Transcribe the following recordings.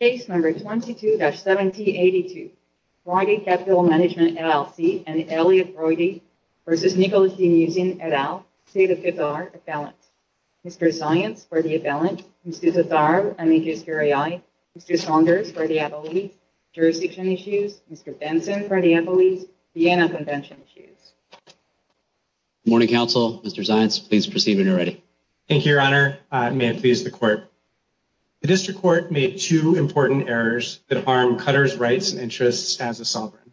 v. Nicholas Muzin, et al., state of Utah, appellant Mr. Zients, for the appellant, Mr. Zissar, I mean just your AI, Mr. Saunders, for the appellee, jurisdiction issues, Mr. Benson, for the appellee, the anti-convention issues. Morning, counsel. Mr. Zients, please proceed when you're ready. Thank you, your honor. May it please the court. The district court made two important errors that harm Cutter's rights and interests as a sovereign.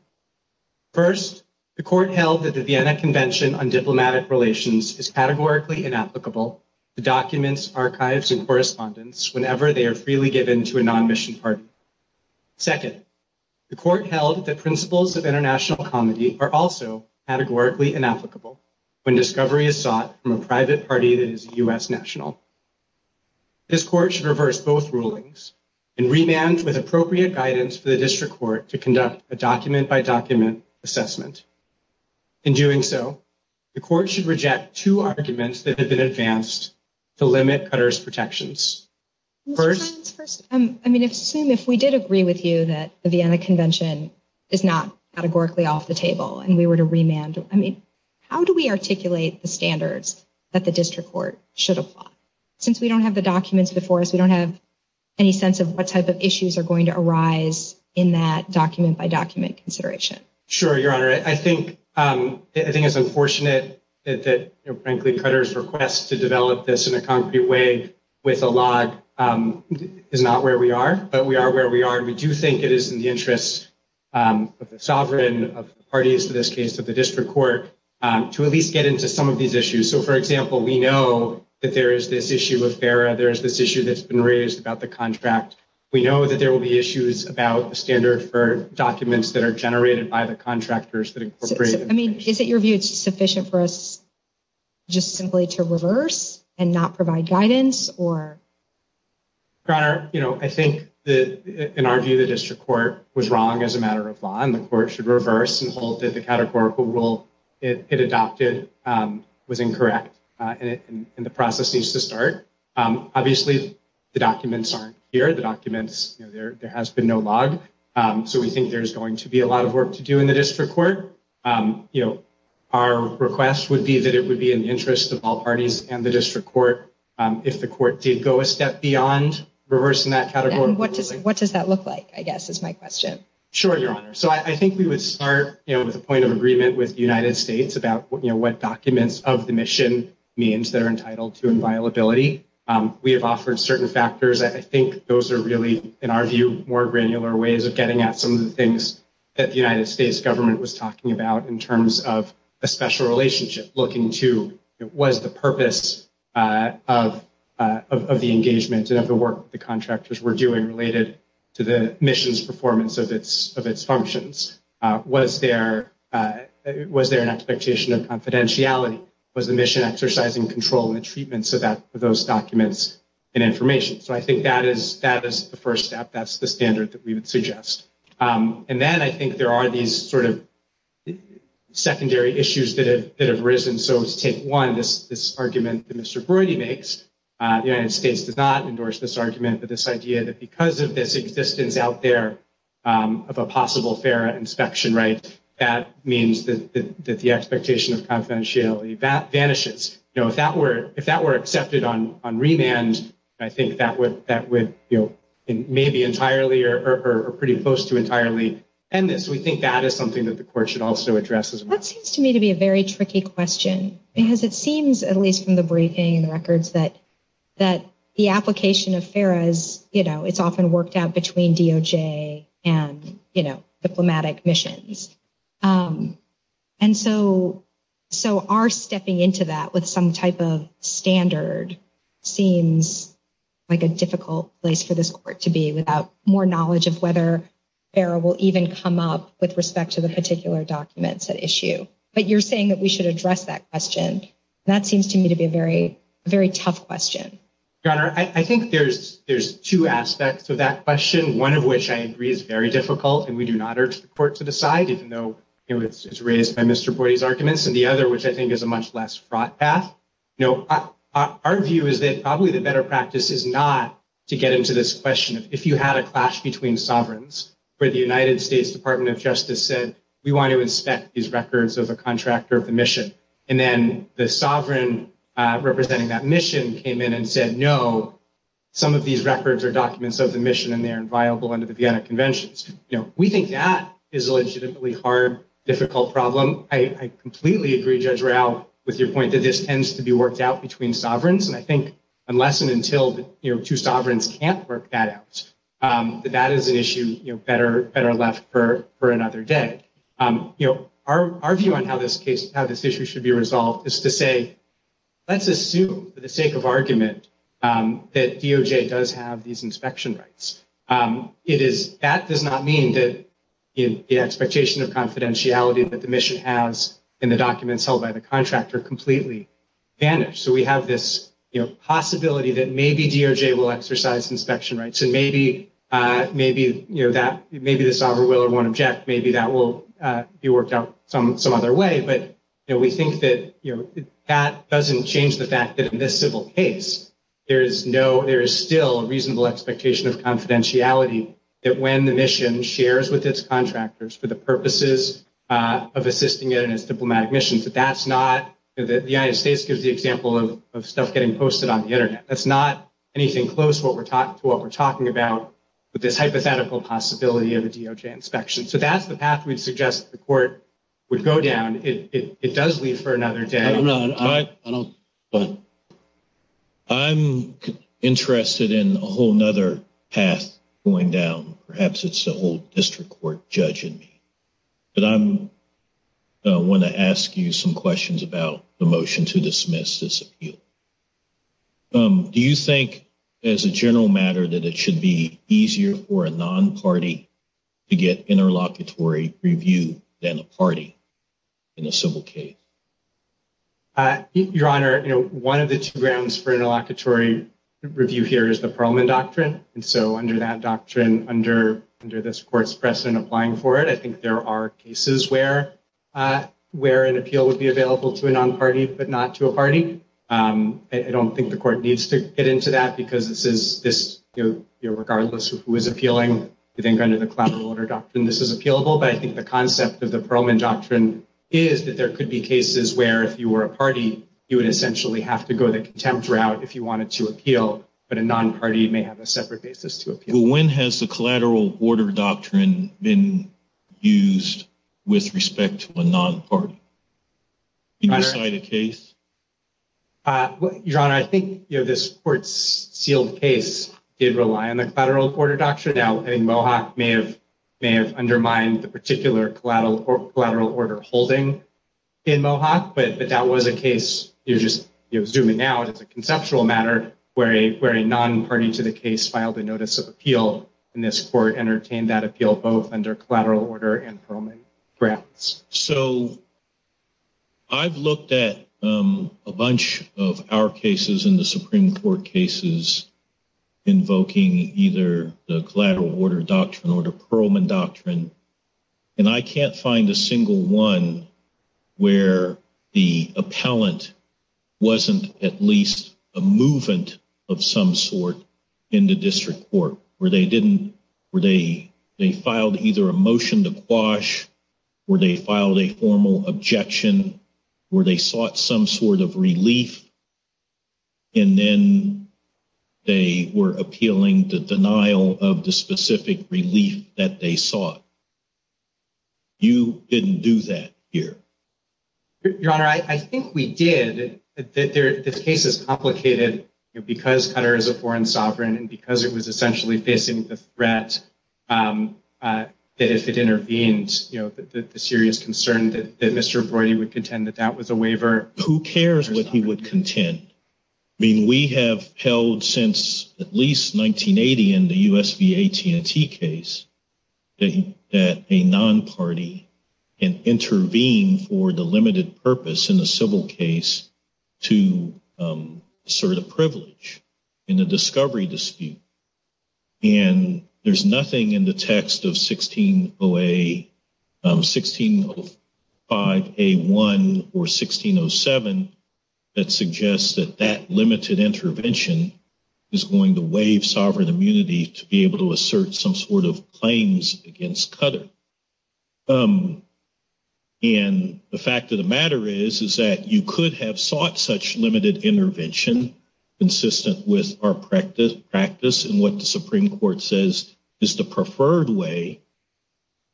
First, the court held that the Vienna Convention on Diplomatic Relations is categorically inapplicable to documents, archives, and correspondence whenever they are freely given to a non-mission party. Second, the court held that principles of international comedy are also categorically inapplicable when discovery is sought from a private party that is U.S. national. This court should reverse both rulings and remand with appropriate guidance for the district court to conduct a document-by-document assessment. In doing so, the court should reject two arguments that have been advanced to limit Cutter's protections. I mean, I assume if we did agree with you that the Vienna Convention is not categorically off the table and we were to remand, I mean, how do we articulate the standards that the district court should apply? Since we don't have the documents before us, we don't have any sense of what type of issues are going to arise in that document-by-document consideration. Sure, Your Honor. I think it's unfortunate that, frankly, Cutter's request to develop this in a concrete way with a log is not where we are, but we are where we are. We do think it is in the interest of the sovereign, of the parties in this case, of the district court, to at least get into some of these issues. So, for example, we know that there is this issue of FERA. There is this issue that's been raised about the contract. We know that there will be issues about the standard for documents that are generated by the contractors that incorporate it. I mean, is it your view that it's sufficient for us just simply to reverse and not provide guidance? Your Honor, I think, in our view, the district court was wrong as a matter of law and the court should reverse and hold that the categorical rule it adopted was incorrect and the process needs to start. Obviously, the documents aren't here. There has been no log, so we think there's going to be a lot of work to do in the district court. Our request would be that it would be in the interest of all parties and the district court if the court did go a step beyond reversing that categorical rule. What does that look like, I guess, is my question. Sure, Your Honor. So, I think we would start with a point of agreement with the United States about what documents of the mission means that are entitled to inviolability. We have offered certain factors. I think those are really, in our view, more granular ways of getting at some of the things that the United States government was talking about in terms of a special relationship, looking to what is the purpose of the engagement and of the work the contractors were doing related to the mission's performance of its functions. Was there an expectation of confidentiality? Was the mission exercising control and treatment for those documents and information? So, I think that is the first step. That's the standard that we would suggest. And then I think there are these sort of secondary issues that have arisen. So, take one, this argument that Mr. Brody makes. The United States did not endorse this argument, but this idea that because of this existence out there of a possible FARA inspection right, that means that the expectation of confidentiality vanishes. If that were accepted on remand, I think that would maybe entirely or pretty close to entirely end it. So, we think that is something that the court should also address as well. That seems to me to be a very tricky question because it seems, at least from the briefing and records, that the application of FARA is, you know, it's often worked out between DOJ and, you know, diplomatic missions. And so, our stepping into that with some type of standard seems like a difficult place for this court to be without more knowledge of whether FARA will even come up with respect to the particular documents at issue. But you're saying that we should address that question. That seems to me to be a very tough question. Your Honor, I think there's two aspects of that question, one of which I agree is very difficult and we do not urge the court to decide, even though it was raised by Mr. Brody's arguments, and the other, which I think is a much less fraught path. You know, our view is that probably the better practice is not to get into this question of if you had a clash between sovereigns where the United States Department of Justice said, we want to inspect these records of a contractor of a mission. And then the sovereign representing that mission came in and said, no, some of these records are documents of the mission and they're inviolable under the Vienna Conventions. You know, we think that is a legitimately hard, difficult problem. I completely agree, Judge Royale, with your point that this tends to be worked out between sovereigns. And I think unless and until, you know, two sovereigns can't work that out, that that is an issue, you know, better left for another day. You know, our view on how this case, how this issue should be resolved is to say, let's assume for the sake of argument that DOJ does have these inspection rights. It is, that does not mean that the expectation of confidentiality that the mission has in the documents held by the contractor are completely banished. So we have this possibility that maybe DOJ will exercise inspection rights and maybe, you know, that maybe the sovereign will or won't object. Maybe that will be worked out some other way. But we think that, you know, that doesn't change the fact that in this civil case, there is no, there is still a reasonable expectation of confidentiality that when the mission shares with its contractors for the purposes of assisting it in its diplomatic mission. So that's not, the United States gives the example of stuff getting posted on the internet. That's not anything close to what we're talking about with this hypothetical possibility of a DOJ inspection. So that's the path we suggest the court would go down. It does leave for another day. I'm interested in a whole nother path going down. Perhaps it's the whole district court judging me. But I want to ask you some questions about the motion to dismiss this appeal. Do you think, as a general matter, that it should be easier for a non-party to get interlocutory review than a party in a civil case? Your Honor, you know, one of the two grounds for interlocutory review here is the parliament doctrine. And so under that doctrine, under this court's precedent applying for it, I think there are cases where an appeal would be available to a non-party but not to a party. I don't think the court needs to get into that because this is, regardless of who is appealing, I think under the collateral order doctrine, this is appealable. But I think the concept of the parliament doctrine is that there could be cases where if you were a party, you would essentially have to go the contempt route if you wanted to appeal. But a non-party may have a separate basis to appeal. When has the collateral order doctrine been used with respect to a non-party? Can you describe the case? Your Honor, I think this court's sealed case did rely on the collateral order doctrine. Now, I think Mohawk may have undermined the particular collateral order holding in Mohawk. But if that was a case, you know, zooming out, it's a conceptual matter where a non-party to the case filed a notice of appeal. And this court entertained that appeal both under collateral order and homing grounds. So I've looked at a bunch of our cases in the Supreme Court cases invoking either the collateral order doctrine or the Perlman doctrine. And I can't find a single one where the appellant wasn't at least a movement of some sort in the district court. Where they filed either a motion to quash, where they filed a formal objection, where they sought some sort of relief. And then they were appealing the denial of the specific relief that they sought. You didn't do that here. Your Honor, I think we did. This case is complicated because Qatar is a foreign sovereign and because it was essentially facing the threat that if it intervenes, you know, the serious concern that Mr. Vordy would contend that that was a waiver. Who cares what he would contend? I mean, we have held since at least 1980 in the U.S. v. AT&T case that a non-party can intervene for the limited purpose in a civil case to assert a privilege in the discovery dispute. And there's nothing in the text of 1605A1 or 1607 that suggests that that limited intervention is going to waive sovereign immunity to be able to assert some sort of claims against Qatar. And the fact of the matter is that you could have sought such limited intervention consistent with our practice and what the Supreme Court says is the preferred way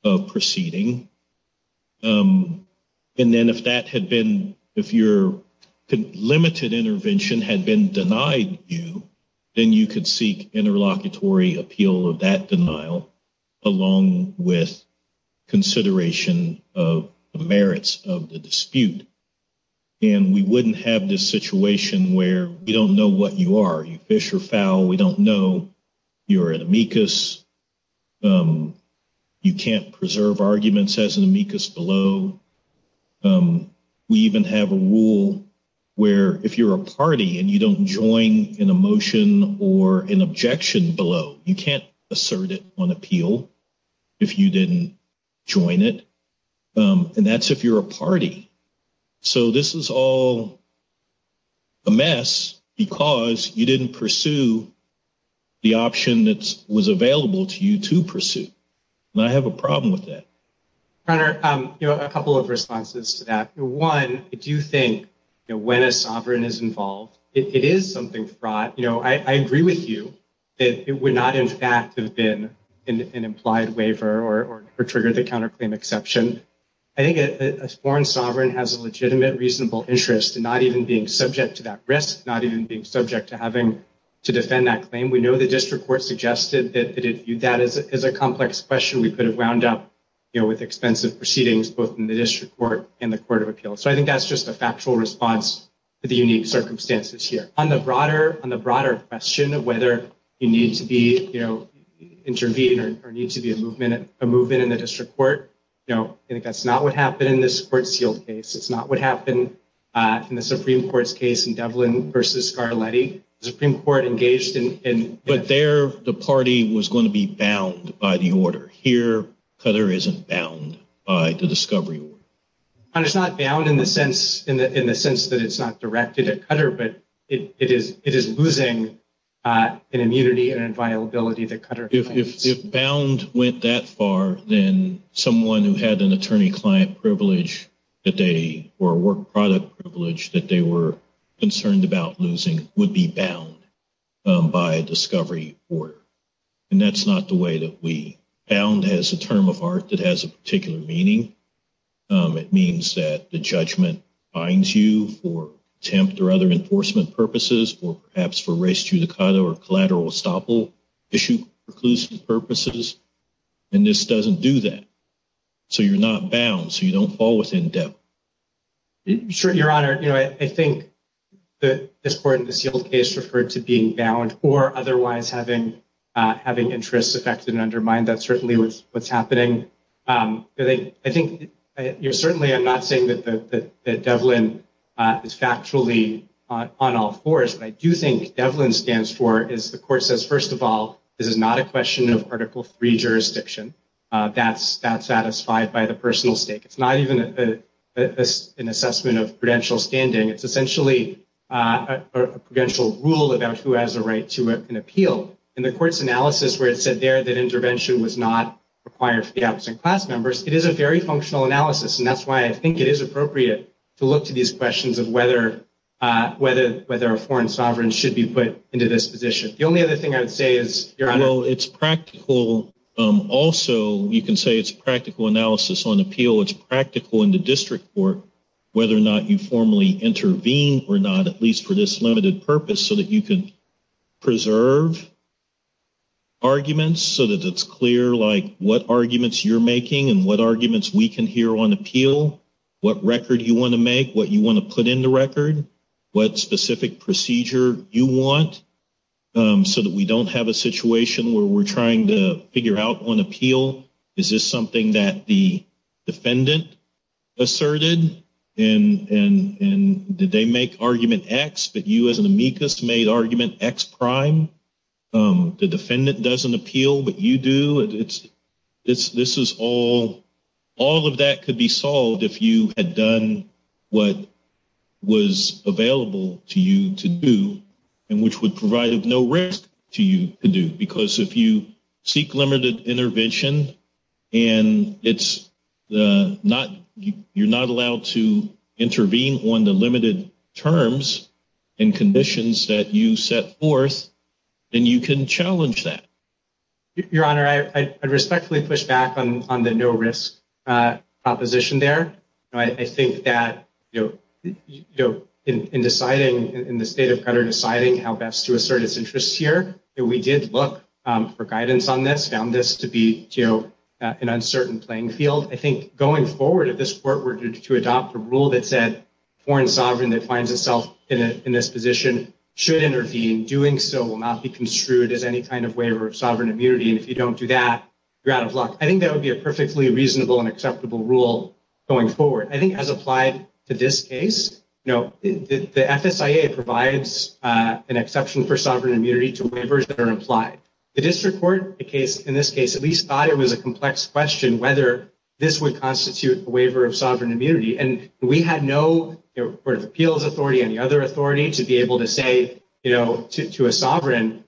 of proceeding. And then if your limited intervention had been denied you, then you could seek interlocutory appeal of that denial along with consideration of the merits of the dispute. And we wouldn't have this situation where we don't know what you are. You fish or foul. We don't know. You're an amicus. You can't preserve arguments as amicus below. We even have a rule where if you're a party and you don't join in a motion or an objection below, you can't assert it on appeal if you didn't join it. And that's if you're a party. So this is all a mess because you didn't pursue the option that was available to you to pursue. And I have a problem with that. Connor, a couple of responses to that. One, I do think when a sovereign is involved, it is something fraught. I agree with you that it would not, in fact, have been an implied waiver or triggered the counterclaim exception. I think a sworn sovereign has a legitimate, reasonable interest in not even being subject to that risk, not even being subject to having to defend that claim. We know the district court suggested that that is a complex question. We could have wound up with extensive proceedings both in the district court and the court of appeal. So I think that's just a factual response to the unique circumstances here. On the broader question of whether you need to intervene or need to be a movement in the district court, I think that's not what happened in this Court Shield case. It's not what happened in the Supreme Court's case in Devlin v. Scarletti. The Supreme Court engaged in— But there, the party was going to be bound by the order. Here, Cutter isn't bound by the discovery order. It's not bound in the sense that it's not directed at Cutter, but it is losing an immunity and a viability that Cutter claims. If bound went that far, then someone who had an attorney-client privilege or a work-product privilege that they were concerned about losing would be bound by a discovery order. And that's not the way that we—bound has a term of art that has a particular meaning. It means that the judgment binds you for attempt or other enforcement purposes or perhaps for res judicata or collateral estoppel issue reclusive purposes. And this doesn't do that. So you're not bound, so you don't fall within depth. Sure, Your Honor. I think that this Court in the Shield case referred to being bound or otherwise having interests affected and undermined. That's certainly what's happening. I think—certainly, I'm not saying that Devlin is factually on all fours. But I do think Devlin stands for—the Court says, first of all, this is not a question of Article III jurisdiction. That's satisfied by the personal state. It's not even an assessment of prudential standing. It's essentially a prudential rule about who has a right to an appeal. In the Court's analysis where it said there that intervention was not required for the absent class members, it is a very functional analysis. And that's why I think it is appropriate to look to these questions of whether a foreign sovereign should be put into this position. The only other thing I would say is, Your Honor— Also, you can say it's practical analysis on appeal. It's practical in the district court whether or not you formally intervene or not, at least for this limited purpose, so that you can preserve arguments so that it's clear what arguments you're making and what arguments we can hear on appeal, what record you want to make, what you want to put in the record, what specific procedure you want, so that we don't have a situation where we're trying to figure out on appeal, is this something that the defendant asserted, and did they make argument X, but you as an amicus made argument X prime? The defendant doesn't appeal, but you do? All of that could be solved if you had done what was available to you to do and which would provide no risk to you to do, because if you seek limited intervention and you're not allowed to intervene on the limited terms and conditions that you set forth, then you can challenge that. Your Honor, I respectfully push back on the no risk proposition there. I think that in deciding, in the state of credit deciding how best to assert its interests here, we did look for guidance on this, found this to be an uncertain playing field. I think going forward, if this court were to adopt a rule that said foreign sovereign that finds itself in this position should intervene, doing so will not be construed as any kind of waiver of sovereign immunity. If you don't do that, you're out of luck. I think that would be a perfectly reasonable and acceptable rule going forward. I think as applied to this case, the FSIA provides an exception for sovereign immunity to waivers that are implied. The district court, in this case, at least thought it was a complex question whether this would constitute a waiver of sovereign immunity. We had no appeals authority, any other authority to be able to say to a sovereign,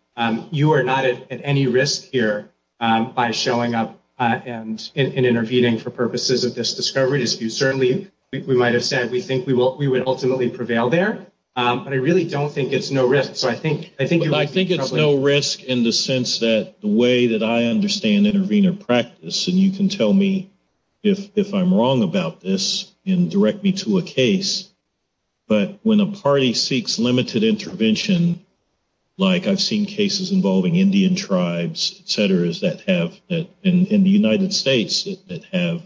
you are not at any risk here by showing up and intervening for purposes of this discovery. Certainly, we might have said we think we would ultimately prevail there, but I really don't think it's no risk. I think it's no risk in the sense that the way that I understand intervener practice, and you can tell me if I'm wrong about this and direct me to a case, but when a party seeks limited intervention, like I've seen cases involving Indian tribes, et cetera, in the United States that have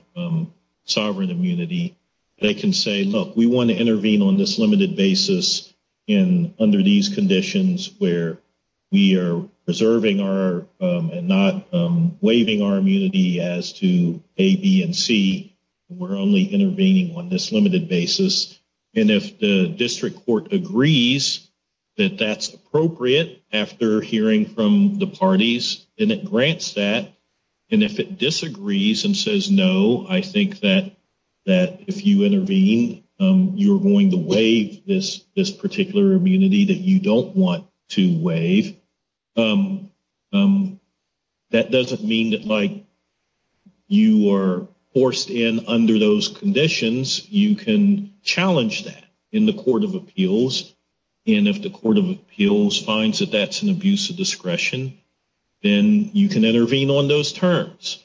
sovereign immunity, they can say, look, we want to intervene on this limited basis under these conditions where we are preserving and not waiving our immunity as to A, B, and C. We're only intervening on this limited basis, and if the district court agrees that that's appropriate after hearing from the parties and it grants that, and if it disagrees and says no, I think that if you intervene, you're going to waive this particular immunity that you don't want to waive. That doesn't mean that you are forced in under those conditions. You can challenge that in the court of appeals, and if the court of appeals finds that that's an abuse of discretion, then you can intervene on those terms,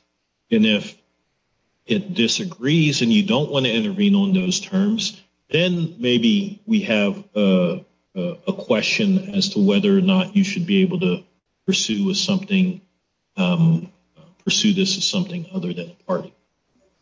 and if it disagrees and you don't want to intervene on those terms, then maybe we have a question as to whether or not you should be able to pursue this as something other than a party.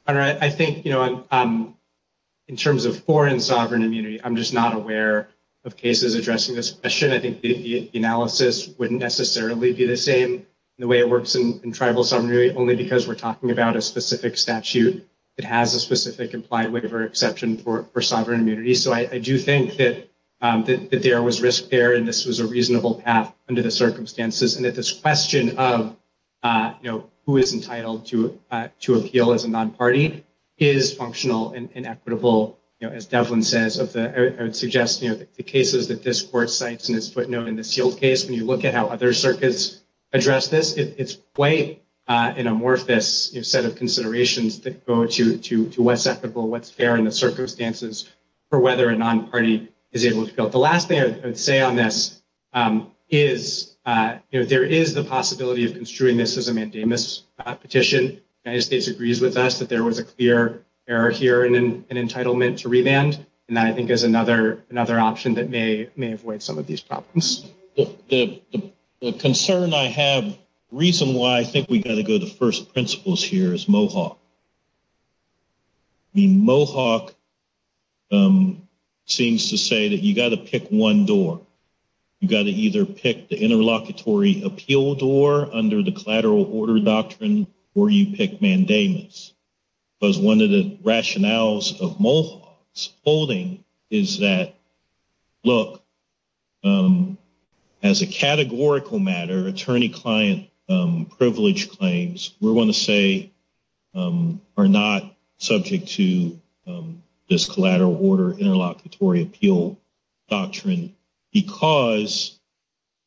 I think in terms of foreign sovereign immunity, I'm just not aware of cases addressing this question. I think the analysis wouldn't necessarily be the same the way it works in tribal sovereignty, only because we're talking about a specific statute that has a specific implied waiver exception for sovereign immunity. So I do think that there was risk there, and this was a reasonable path under the circumstances, and that this question of who is entitled to appeal as a non-party is functional and equitable. As Devlin says, I would suggest the cases that this court cites in its footnote in the sealed case, when you look at how other circuits address this, it's quite an amorphous set of considerations that go to what's equitable, what's fair in the circumstances for whether a non-party is able to appeal. The last thing I would say on this is there is the possibility of construing this as a mandamus petition. The United States agrees with us that there was a clear error here in an entitlement to revand, and I think there's another option that may avoid some of these problems. The concern I have, the reason why I think we've got to go to first principles here is Mohawk. Mohawk seems to say that you've got to pick one door. You've got to either pick the interlocutory appeal door under the collateral order doctrine, or you pick mandamus. Because one of the rationales of Mohawk's holding is that, look, as a categorical matter, attorney-client privilege claims, we're going to say, are not subject to this collateral order interlocutory appeal doctrine, because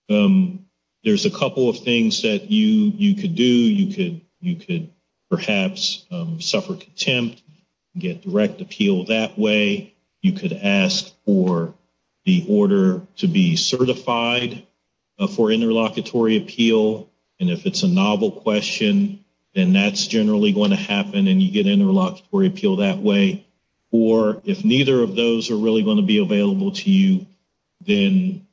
there's a couple of things that you could do. You could perhaps suffer contempt, get direct appeal that way. You could ask for the order to be certified for interlocutory appeal. And if it's a novel question, then that's generally going to happen, and you get interlocutory appeal that way. Or if neither of those are really going to be available to you, then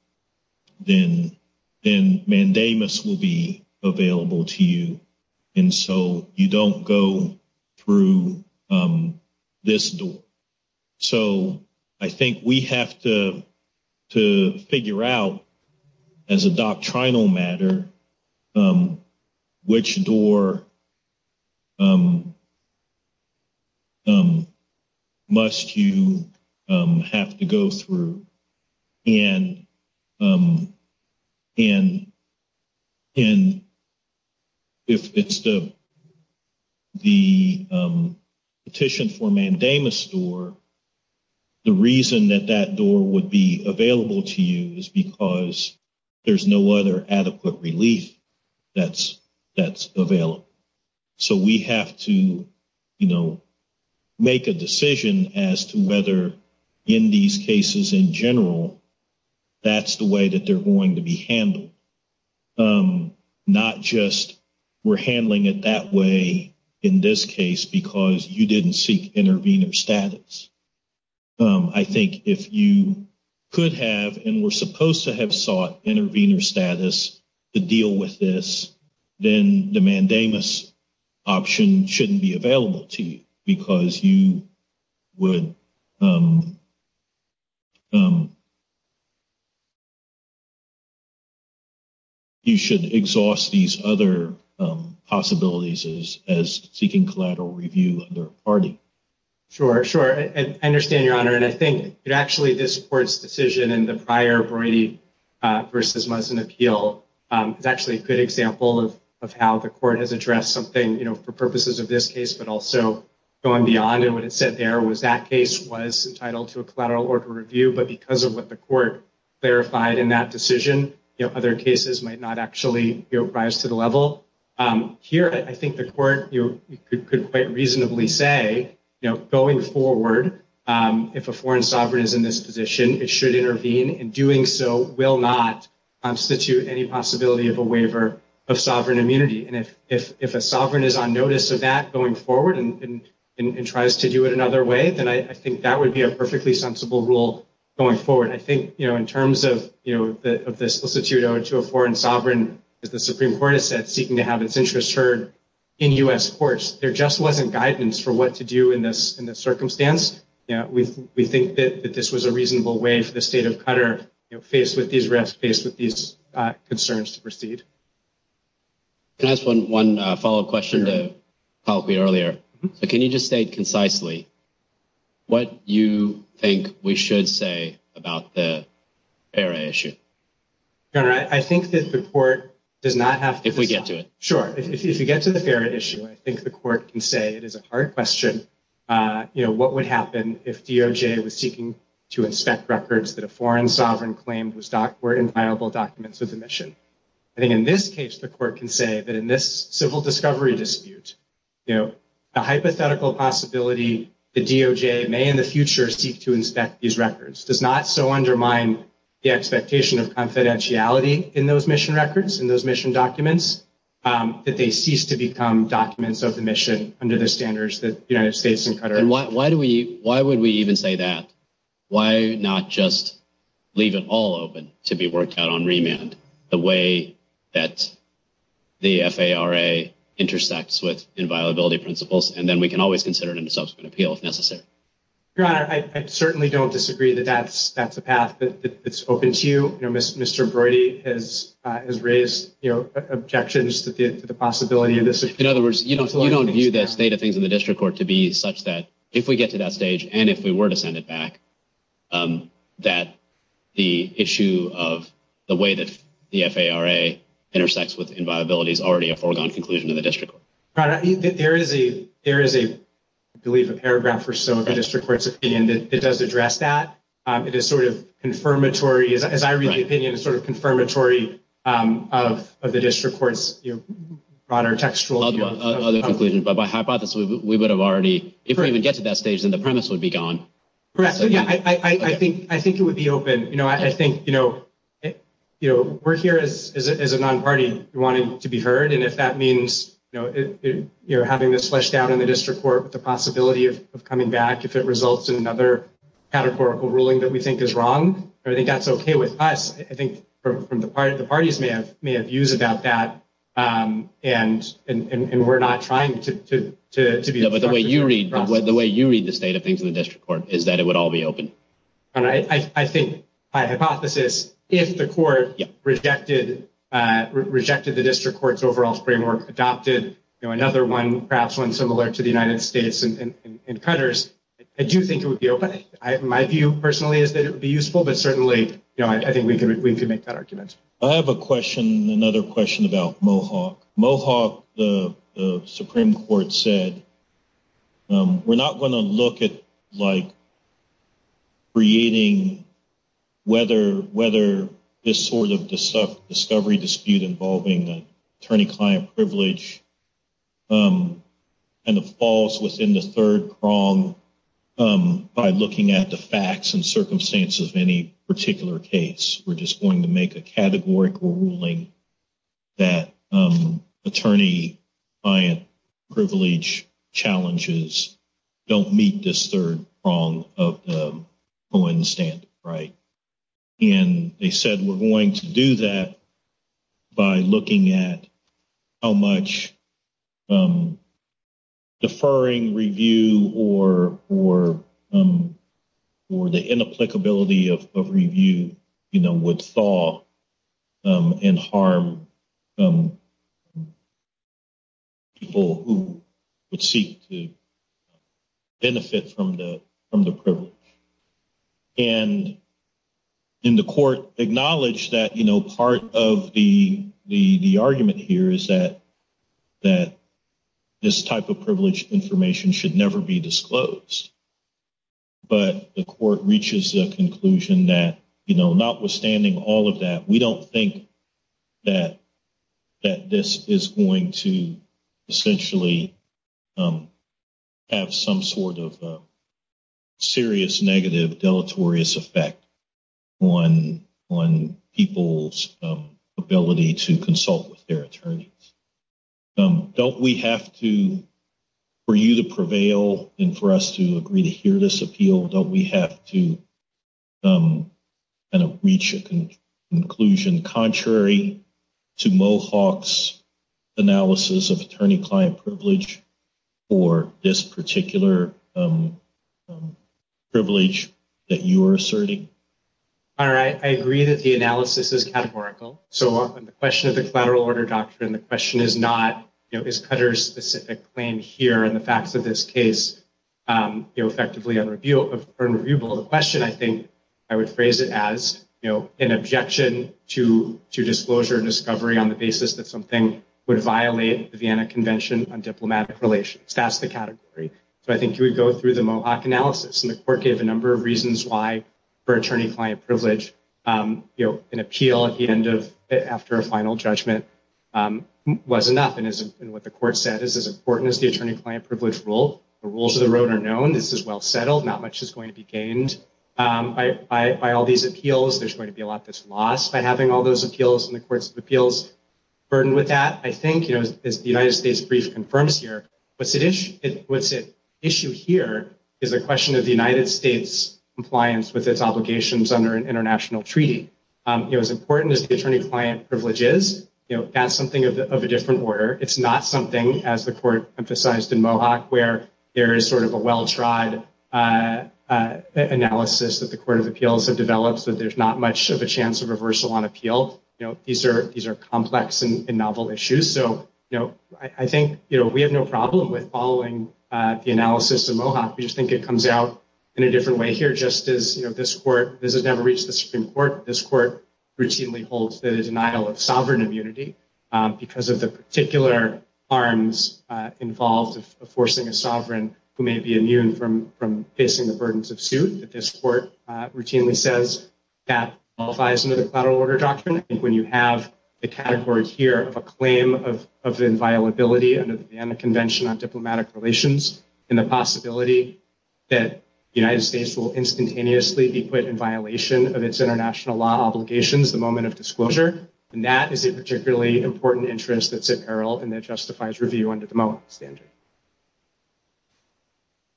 mandamus will be available to you. And so you don't go through this door. So I think we have to figure out, as a doctrinal matter, which door must you have to go through. And if it's the petition for mandamus door, the reason that that door would be available to you is because there's no other adequate relief that's available. So we have to, you know, make a decision as to whether, in these cases in general, that's the way that they're going to be handled. Not just we're handling it that way in this case because you didn't seek intervener status. I think if you could have and were supposed to have sought intervener status to deal with this, then the mandamus option shouldn't be available to you because you would – you should exhaust these other possibilities as seeking collateral review under ARDI. Sure, sure. I understand, Your Honor. And I think actually this court's decision in the prior void versus medicine appeal is actually a good example of how the court has addressed something, you know, for purposes of this case, but also going beyond. And what it said there was that case was entitled to a collateral order review. But because of what the court verified in that decision, other cases might not actually rise to the level. Here, I think the court could quite reasonably say, you know, going forward, if a foreign sovereign is in this position, it should intervene. And doing so will not constitute any possibility of a waiver of sovereign immunity. And if a sovereign is on notice of that going forward and tries to do it another way, then I think that would be a perfectly sensible rule going forward. And I think, you know, in terms of the solicitude owed to a foreign sovereign that the Supreme Court has said seeking to have its interests heard in U.S. courts, there just wasn't guidance for what to do in this circumstance. We think that this was a reasonable way for the state of Qatar, you know, faced with these risks, faced with these concerns to proceed. Can I ask one follow-up question that followed me earlier? Can you just state concisely what you think we should say about the FARA issue? I think that the court does not have to... If we get to it. Sure. If you get to the FARA issue, I think the court can say it is a hard question, you know, what would happen if DOJ was seeking to inspect records that a foreign sovereign claimed were inviolable documents of demission. I think in this case, the court can say that in this civil discovery dispute, you know, a hypothetical possibility the DOJ may in the future seek to inspect these records does not so undermine the expectation of confidentiality in those mission records, in those mission documents, that they cease to become documents of the mission under the standards that the United States and Qatar... The way that the FARA intersects with inviolability principles, and then we can always consider it in subsequent appeal if necessary. Your Honor, I certainly don't disagree that that's a path that's open to you. You know, Mr. Brody has raised, you know, objections to the possibility of this. In other words, you don't view that state of things in the district court to be such that if we get to that stage and if we were to send it back, that the issue of the way that the FARA intersects with inviolability is already a foregone conclusion in the district court. Your Honor, there is, I believe, a paragraph for some of the district court's opinion that does address that. It is sort of confirmatory, as I read the opinion, sort of confirmatory of the district court's broader textual... Other conclusion, but by hypothesis, we would have already... If we even get to that stage, then the premise would be gone. Correct. I think it would be open. You know, I think, you know, we're here as a non-party wanting to be heard, and if that means, you know, having this flushed down in the district court with the possibility of coming back if it results in another categorical ruling that we think is wrong, I think that's okay with us. I think the parties may have views about that, and we're not trying to be... But the way you read the state of things in the district court is that it would all be open. I think, by hypothesis, if the court rejected the district court's overall framework, adopted, you know, another one, perhaps one similar to the United States and Cutter's, I do think it would be open. My view, personally, is that it would be useful, but certainly, you know, I think we could make that argument. I have a question, another question about Mohawk. Mohawk, the Supreme Court said, we're not going to look at, like, creating whether this sort of discovery dispute involving the attorney-client privilege kind of falls within the third prong by looking at the facts and circumstances of any particular case. We're just going to make a categorical ruling that attorney-client privilege challenges don't meet this third prong of the coincidence, right? And they said, we're going to do that by looking at how much deferring review or the inapplicability of review, you know, would thaw and harm people who would seek to benefit from the privilege. And the court acknowledged that, you know, part of the argument here is that this type of privilege information should never be disclosed. But the court reaches the conclusion that, you know, notwithstanding all of that, we don't think that this is going to essentially have some sort of serious negative deleterious effect on people's ability to consult with their attorneys. Don't we have to, for you to prevail and for us to agree to hear this appeal, don't we have to kind of reach a conclusion contrary to Mohawk's analysis of attorney-client privilege or this particular privilege that you are asserting? All right. I agree that the analysis is categorical. So on the question of the federal order doctrine, the question is not, you know, is Cutter's specific claim here and the fact that this case, you know, effectively a reviewable question, I think I would phrase it as, you know, an objection to disclosure and discovery on the basis that something would violate the Vienna Convention on Diplomatic Relations. So I think you would go through the Mohawk analysis and the court gave a number of reasons why for attorney-client privilege, you know, an appeal at the end of, after a final judgment was enough and what the court said is as important as the attorney-client privilege rule. The rules of the road are known. This is well settled. Not much is going to be gained by all these appeals. There's going to be a lot that's lost by having all those appeals and the courts of appeals burdened with that. I think, you know, as the United States brief confirms here, what's at issue here is a question of the United States' compliance with its obligations under an international treaty. You know, as important as attorney-client privilege is, you know, that's something of a different order. It's not something, as the court emphasized in Mohawk, where there is sort of a well-tried analysis that the court of appeals have developed that there's not much of a chance of reversal on appeal. You know, these are complex and novel issues. So, you know, I think, you know, we have no problem with following the analysis in Mohawk. We just think it comes out in a different way here, just as, you know, this court, this has never reached the Supreme Court. This court routinely holds the denial of sovereign immunity because of the particular harms involved of forcing a sovereign who may be immune from facing the burdens of suit. So, you know, I think, you know, we have no problem with following the analysis in Mohawk. We just think it comes out in a different way here, just as, you know, this court routinely holds the denial of sovereign immunity because of the particular harms involved of forcing a sovereign who may be immune from facing the burdens of suit.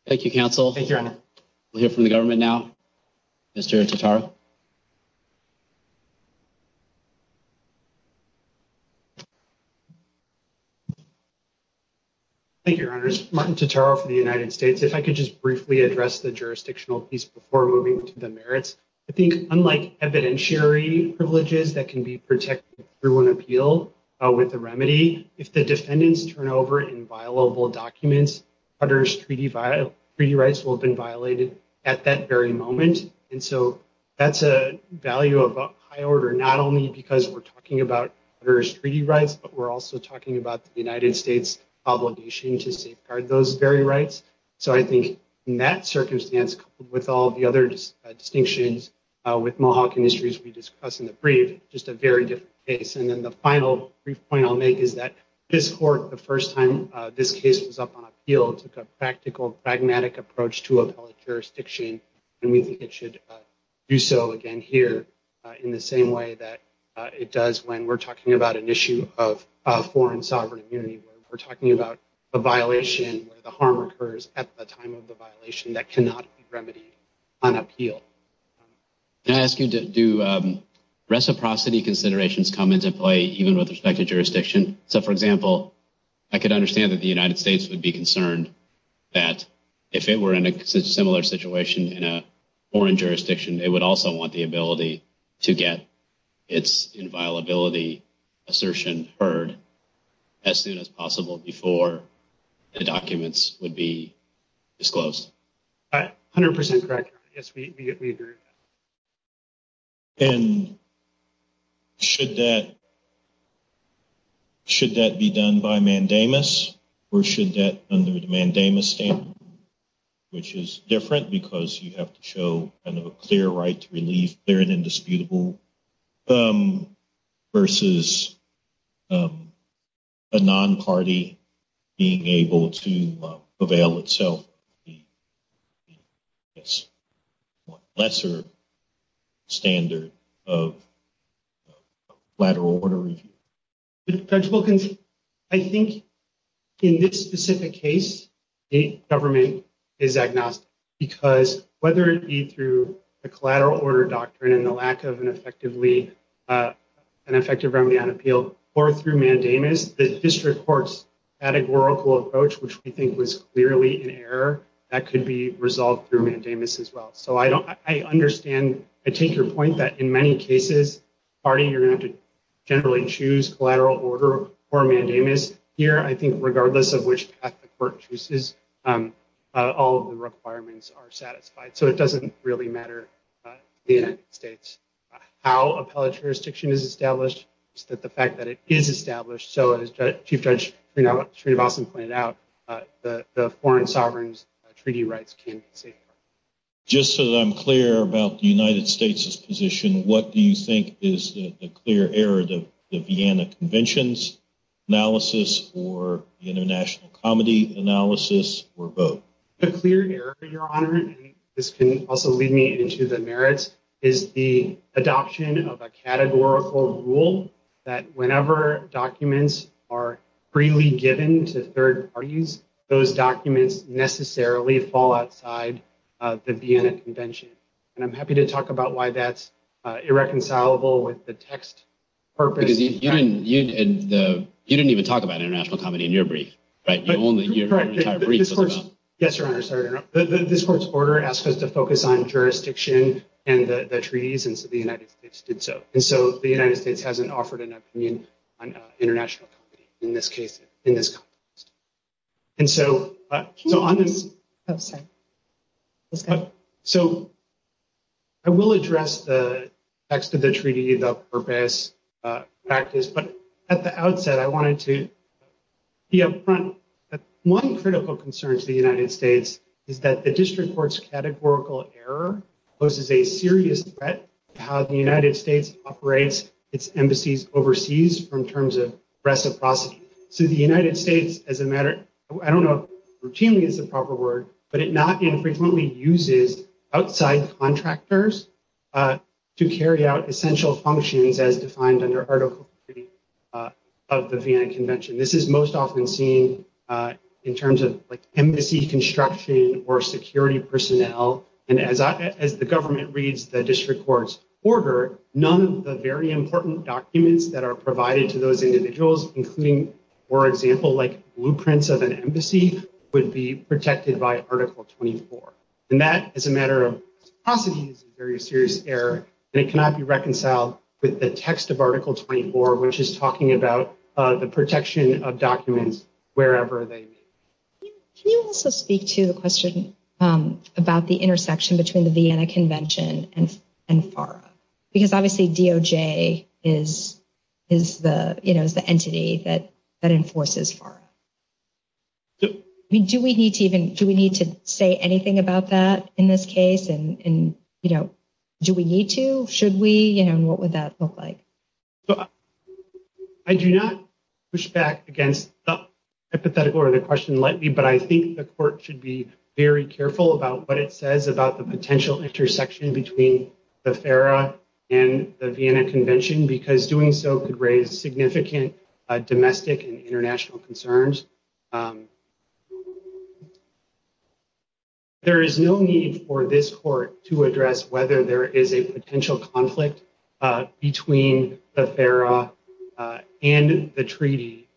Thank you. Now, Mr. Totaro. Thank you, Your Honors. Martin Totaro from the United States. If I could just briefly address the jurisdictional piece before moving to the merits. I think unlike evidentiary privileges that can be protected through an appeal with a remedy, if the defendants turn over inviolable documents, that's a value of a high order, not only because we're talking about U.S. treaty rights, but we're also talking about the United States obligation to safeguard those very rights. So, I think in that circumstance, with all the other distinctions with Mohawk industries we discussed in the brief, just a very different case. And then the final brief point I'll make is that this court, the first time this case was up on appeal, took a practical, pragmatic approach to appellate jurisdiction, and we think it should do so again here in the same way that it does when we're talking about an issue of foreign sovereign immunity, when we're talking about a violation where the harm occurs at the time of the violation that cannot be remedied on appeal. I'm asking, do reciprocity considerations come into play even with respect to jurisdiction? So, for example, I could understand that the United States would be concerned that if they were in a similar situation in a foreign jurisdiction, they would also want the ability to get its inviolability assertion heard as soon as possible before the documents would be disclosed. 100% correct. Yes, we agree. And should that be done by mandamus, or should that be done under the mandamus statement, which is different because you have to show kind of a clear right to relief, clear and indisputable, versus a non-party being able to prevail itself. Yes. Lesser standard of lateral order. Judge Wilkins, I think in this specific case, state government is agnostic, because whether it be through the collateral order doctrine and the lack of an effective remedy on appeal, or through mandamus, the district court's categorical approach, which we think was clearly in error, that could be resolved through mandamus as well. So, I understand, I take your point that in many cases, party, you're going to generally choose collateral order or mandamus. Here, I think regardless of which path the court chooses, all of the requirements are satisfied. So, it doesn't really matter in the United States how appellate jurisdiction is established, but the fact that it is established. So, as Chief Judge Sreenivasan pointed out, the foreign sovereign's treaty rights can be safeguarded. Just so that I'm clear about the United States' position, what do you think is the clear error, the Vienna Conventions analysis, or the international comedy analysis, or both? The clear error, Your Honor, and this can also lead me into the merits, is the adoption of a categorical rule that whenever documents are freely given to third parties, those documents necessarily fall outside of the Vienna Convention. And I'm happy to talk about why that's irreconcilable with the text purpose. You didn't even talk about international comedy in your brief. Yes, Your Honor, sorry, Your Honor. This court's order asks us to focus on jurisdiction and the treaties, and so the United States did so. And so, the United States hasn't offered an opinion on international comedy in this case, in this context. And so, I will address the text of the treaty, the purpose, practice, but at the outset, I wanted to be upfront. One critical concern to the United States is that the district court's categorical error poses a serious threat to how the United States operates its embassies overseas in terms of reciprocity. So, the United States, as a matter of, I don't know if routinely is the proper word, but it not infrequently uses outside contractors to carry out essential functions as defined under Article 50 of the Vienna Convention. This is most often seen in terms of embassy construction or security personnel. And as the government reads the district court's order, none of the very important documents that are provided to those individuals, including, for example, like blueprints of an embassy, would be protected by Article 24. And that, as a matter of possibility, is a very serious error, and it cannot be reconciled with the text of Article 24, which is talking about the protection of documents wherever they may be. Can you also speak to the question about the intersection between the Vienna Convention and FARA? Because, obviously, DOJ is the entity that enforces FARA. Do we need to say anything about that in this case? And, you know, do we need to? Should we? And what would that look like? I do not push back against the hypothetical or the question likely, but I think the court should be very careful about what it says about the potential intersection between the FARA and the Vienna Convention, because doing so could raise significant domestic and international concerns. There is no need for this court to address whether there is a potential conflict between the FARA and the treaty.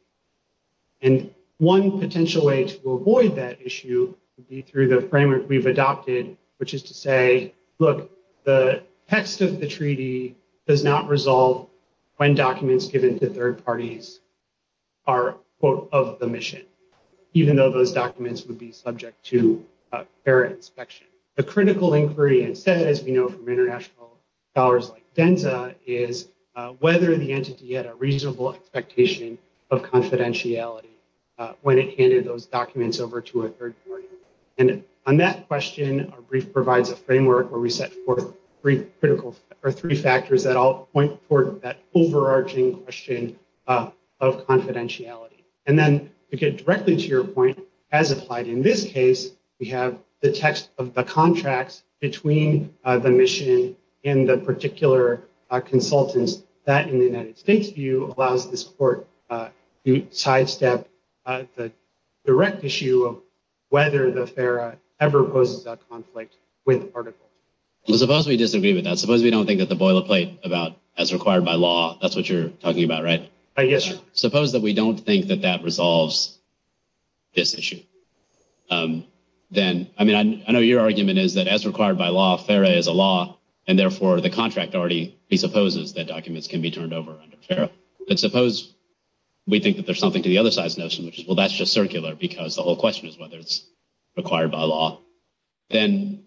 And one potential way to avoid that issue would be through the framework we've adopted, which is to say, look, the text of the treaty does not resolve when documents given to third parties are, quote, of the mission, even though those documents would be subject to FARA inspection. The critical inquiry instead, as we know from international scholars like Zenta, is whether the entity had a reasonable expectation of confidentiality when it handed those documents over to a third party. And on that question, our brief provides a framework where we set forth three critical, or three factors that all point toward that overarching question of confidentiality. And then, to get directly to your point, as applied in this case, we have the text of the contracts between the mission and the particular consultants. That, in the United States view, allows this court to sidestep the direct issue of whether the FARA ever poses that conflict with Article. Well, suppose we disagree with that. Suppose we don't think that the boilerplate about as required by law, that's what you're talking about, right? Yes, sir. Suppose that we don't think that that resolves this issue. Then, I mean, I know your argument is that as required by law, FARA is a law, and therefore the contract already presupposes that documents can be turned over under FARA. But suppose we think that there's something to the other side's notion, which is, well, that's just circular because the whole question is whether it's required by law. Then,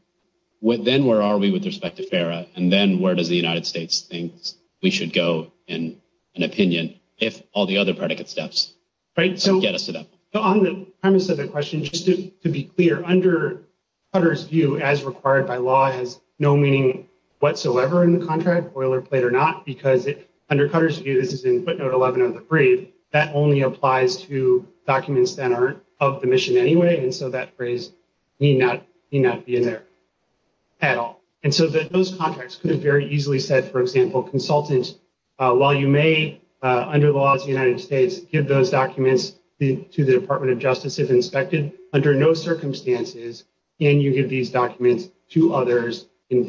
where are we with respect to FARA? And then, where does the United States think we should go in an opinion if all the other predicate steps get us to that? On the premise of the question, just to be clear, under Cutter's view, as required by law, there's no meaning whatsoever in the contract, boilerplate or not, because under Cutter's view, this is in footnote 11 of the brief, that only applies to documents that are of the mission anyway, and so that phrase need not be in there at all. And so those contracts could have very easily said, for example, consultants, while you may, under the laws of the United States, give those documents to the Department of Justice if inspected, under no circumstances can you give these documents to others in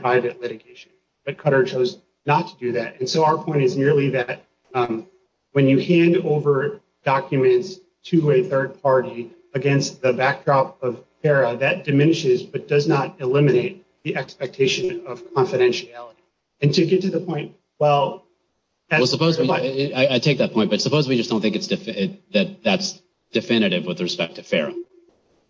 private litigation. But Cutter chose not to do that. And so our point is merely that when you hand over documents to a third party against the backdrop of FARA, that diminishes but does not eliminate the expectation of confidentiality. And to get to the point, well... I take that point, but suppose we just don't think that that's definitive with respect to FARA.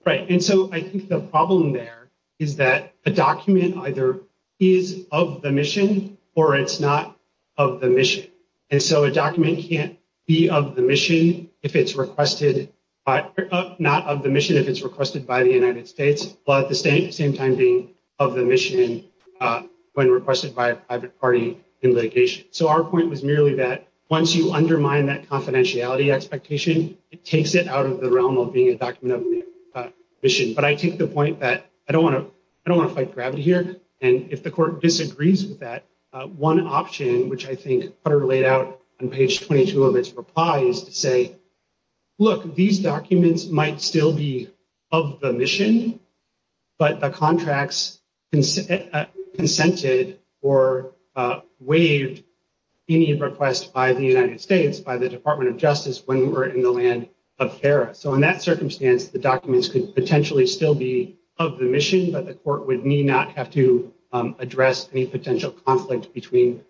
Right. And so I think the problem there is that the document either is of the mission or it's not of the mission. And so a document can't be of the mission if it's requested, not of the mission if it's requested by the United States, but at the same time being of the mission when requested by a private party in litigation. So our point was merely that once you undermine that confidentiality expectation, it takes it out of the realm of being a document of mission. But I take the point that I don't want to fight gravity here, and if the court disagrees with that, one option which I think Cutter laid out on page 22 of his reply is to say, look, these documents might still be of the mission, but the contracts consented or waived any request by the United States, by the Department of Justice when we were in the land of FARA. So in that circumstance, the documents could potentially still be of the mission, but the court would need not have to address any potential conflict between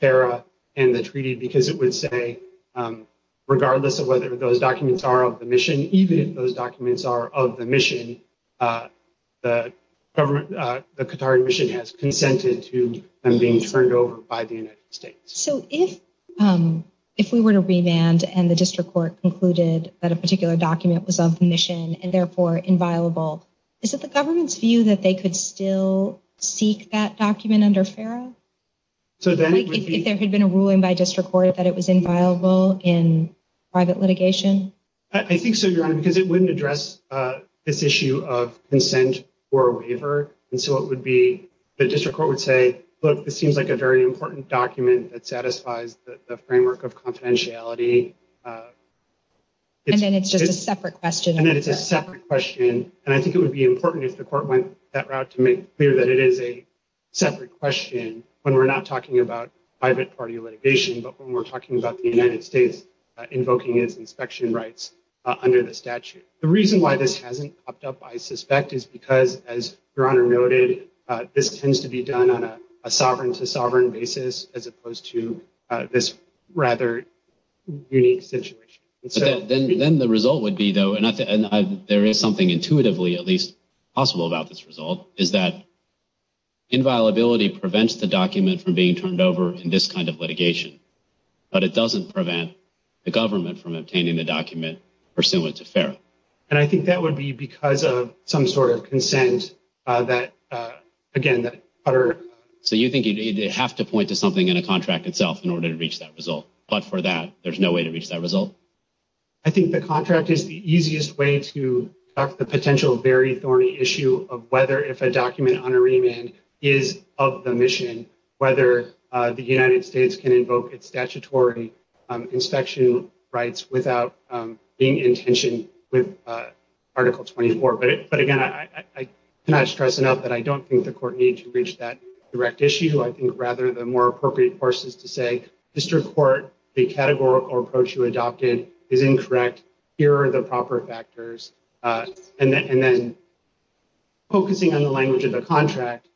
FARA and the treaty because it would say, regardless of whether those documents are of the mission, even if those documents are of the mission, the government, the Qatari mission has consented to them being turned over by the United States. So if we were to remand and the district court concluded that a particular document was of mission and therefore inviolable, is it the government's view that they could still seek that document under FARA? If there had been a ruling by district court that it was inviolable in private litigation? I think so, Your Honor, because it wouldn't address this issue of consent or waiver, and so it would be, the district court would say, look, this seems like a very important document that satisfies the framework of confidentiality. And then it's just a separate question. And I think it would be important if the court went that route to make clear that it is a separate question when we're not talking about private party litigation, but when we're talking about the United States invoking its inspection rights under the statute. The reason why this hasn't popped up, I suspect, is because, as Your Honor noted, this tends to be done on a sovereign-to-sovereign basis as opposed to this rather unique situation. Then the result would be, though, and there is something intuitively at least possible about this result, is that inviolability prevents the document from being turned over in this kind of litigation. But it doesn't prevent the government from obtaining the document pursuant to FARA. And I think that would be because of some sort of consent that, again, that utter… So you think you'd have to point to something in the contract itself in order to reach that result. But for that, there's no way to reach that result? I think the contract is the easiest way to start the potential very thorny issue of whether if a document under remand is of the mission, whether the United States can invoke its statutory inspection rights without being in tension with Article 24. But, again, I cannot stress enough that I don't think the court needs to reach that direct issue. I think, rather, the more appropriate course is to say, Mr. Court, the categorical approach you adopted is incorrect. Here are the proper factors. And then focusing on the language of the contract,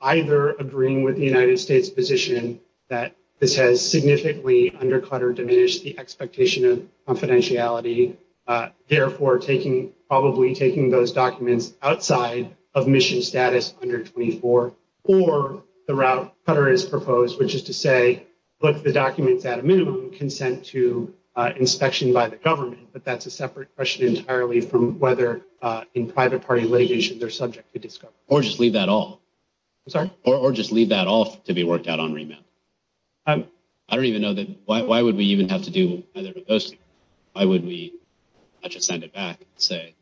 either agreeing with the United States position that this has significantly undercut or diminished the expectation of confidentiality, therefore probably taking those documents outside of mission status under 24, or the route that is proposed, which is to say put the documents at a minimum consent to inspection by the government. But that's a separate question entirely from whether in private party litigation they're subject to discovery. Or just leave that off. I'm sorry? Or just leave that off to be worked out on remand. I don't even know that… Why would we even have to do that? Why would we… I should send it back and say…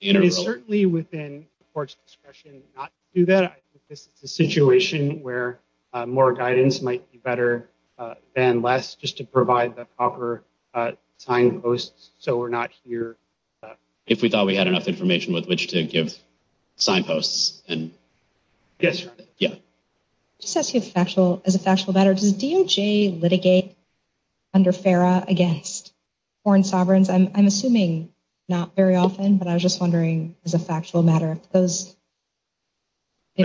It is certainly within the court's discretion not to do that. I think this is a situation where more guidance might be better than less just to provide the proper signposts so we're not here… If we thought we had enough information with which to give signposts, then… Yes. Yeah. As a factual matter, does DOJ litigate under FERA against foreign sovereigns? I'm assuming not very often, but I was just wondering as a factual matter. I'm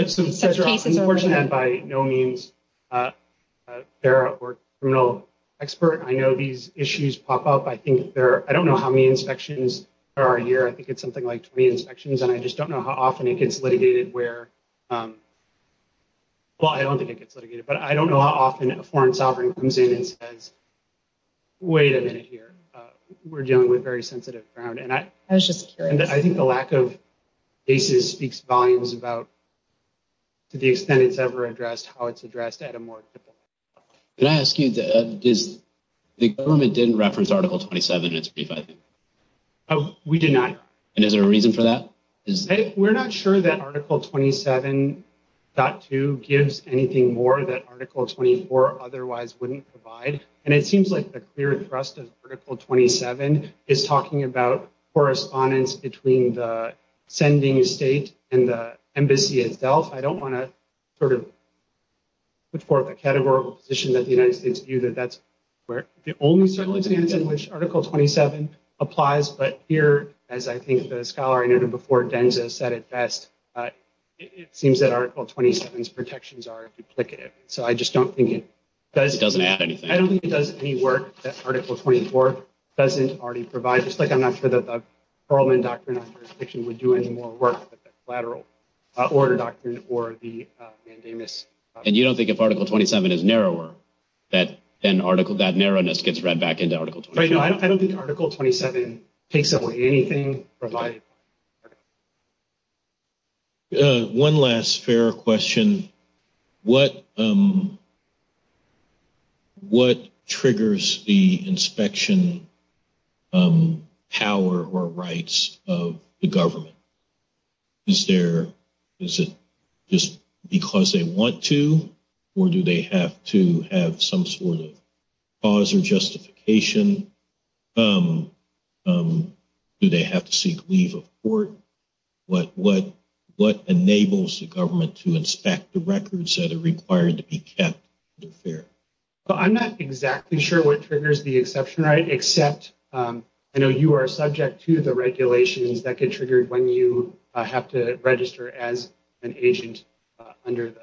fortunate that by no means, FERA or a criminal expert, I know these issues pop up. I don't know how many inspections there are here. I think it's something like 20 inspections, and I just don't know how often it gets litigated where… Well, I don't think it gets litigated, but I don't know how often a foreign sovereign comes in and says, Wait a minute here. We're dealing with very sensitive ground, and I think the lack of cases speaks volumes about to the extent it's ever addressed, how it's addressed at a more… Can I ask you, the government didn't reference Article 27 in its brief, I think. We did not. And is there a reason for that? We're not sure that Article 27.2 gives anything more that Article 24 otherwise wouldn't provide, and it seems like the clear thrust of Article 27 is talking about correspondence between the sending state and the embassy itself. I don't want to put forth a categorical position that the United States view that that's the only settlement in which Article 27 applies. But here, as I think the scholar I noted before, Denza, said it best, it seems that Article 27's protections are duplicative. So, I just don't think it does any work that Article 24 doesn't already provide. It's not just like I'm not sure that the Foreman Doctrine would do any more work than the Flateral Order Doctrine or the mandamus. And you don't think if Article 27 is narrower, then that narrowness gets read back into Article 27? No, I don't think Article 27 takes away anything provided. One last fair question. What triggers the inspection power or rights of the government? Is it just because they want to, or do they have to have some sort of cause or justification? Do they have to seek leave of court? What enables the government to inspect the records that are required to be kept? I'm not exactly sure what triggers the exception right, except I know you are subject to the regulations that get triggered when you have to register as an agent under the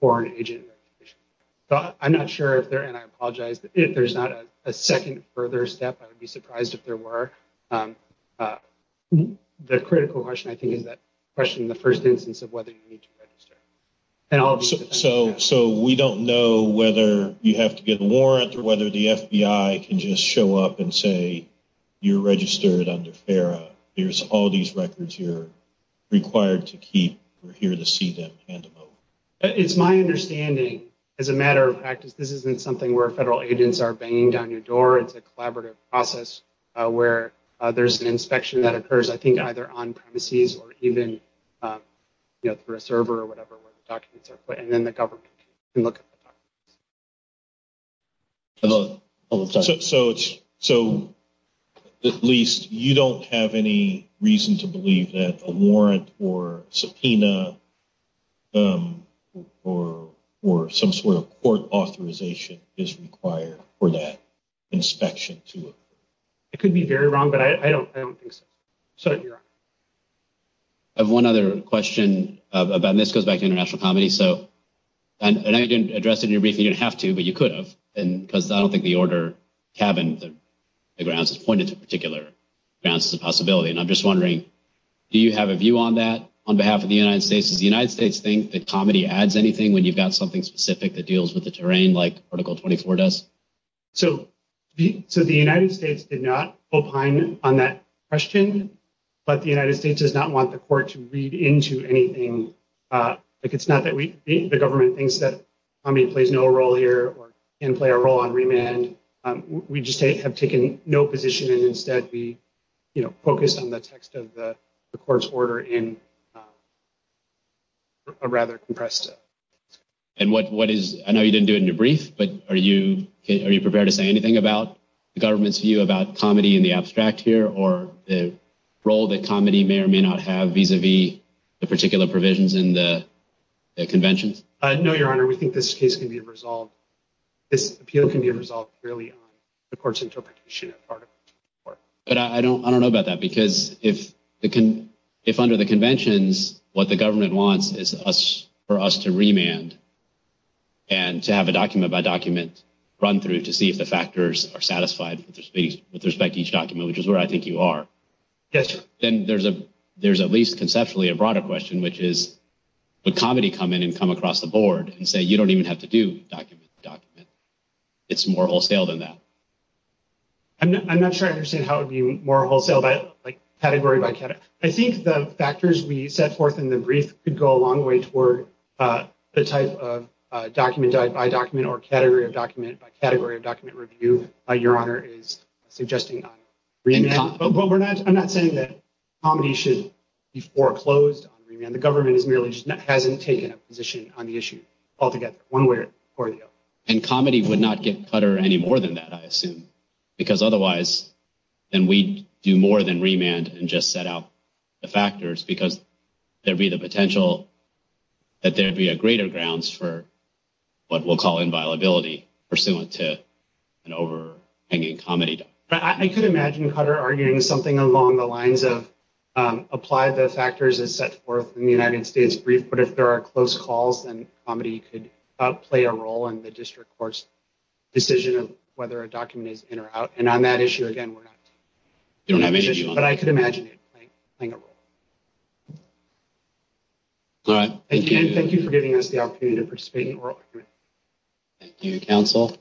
Foreign Agent Registration. I'm not sure, and I apologize, if there's not a second further step, I would be surprised if there were. The critical question, I think, is that question in the first instance of whether you need to register. So, we don't know whether you have to get a warrant or whether the FBI can just show up and say, you're registered under FERA. Here's all these records you're required to keep. We're here to see them. It's my understanding, as a matter of practice, this isn't something where federal agents are banging down your door. It's a collaborative process where there's an inspection that occurs, I think, either on premises or even, you know, through a server or whatever where the documents are put, and then the government can look at the documents. So, at least you don't have any reason to believe that a warrant or subpoena or some sort of court authorization is required for that inspection to occur. It could be very wrong, but I don't think so. I have one other question about, and this goes back to international comedy. So, I know you didn't address it in your briefing, you didn't have to, but you could have, because I don't think the order tabbing the grounds has pointed to particular grounds to the possibility. And I'm just wondering, do you have a view on that on behalf of the United States? Does the United States think that comedy adds anything when you've got something specific that deals with the terrain, like Article 24 does? So, the United States did not opine on that question, but the United States does not want the court to read into anything. Like, it's not that we think the government thinks that comedy plays no role here or can play a role on remand. We just have taken no position and instead we, you know, focused on the text of the court's order and rather compressed it. And what is, I know you didn't do it in your brief, but are you prepared to say anything about the government's view about comedy in the abstract here or the role that comedy may or may not have vis-a-vis the particular provisions in the conventions? No, Your Honor, we think this case can be resolved, this appeal can be resolved purely on the court's interpretation of Article 24. But I don't know about that, because if under the conventions, what the government wants is for us to remand and to have a document-by-document run-through to see if the factors are satisfied with respect to each document, which is where I think you are. Yes, Your Honor. Then there's at least conceptually a broader question, which is, would comedy come in and come across the board and say, you don't even have to do document-by-document? It's more wholesale than that. I'm not sure I understand how it would be more wholesale, but like category-by-category. I think the factors we set forth in the brief could go a long way toward the type of document-by-document or category-by-category of document review Your Honor is suggesting on remand. But we're not, I'm not saying that comedy should be foreclosed on remand. The government is merely, hasn't taken a position on the issue altogether, one way or the other. And comedy would not give Cutter any more than that, I assume. Because otherwise, then we'd do more than remand and just set up the factors because there'd be the potential that there'd be a greater grounds for what we'll call inviolability pursuant to an overhanging comedy document. I could imagine Cutter arguing something along the lines of apply the factors as set forth in the United States brief. But if there are close calls, then comedy could play a role in the district court's decision of whether a document is in or out. And on that issue, again, we don't have an issue, but I could imagine it playing a role. Again, thank you for giving us the opportunity to participate in the oral argument. Thank you, counsel.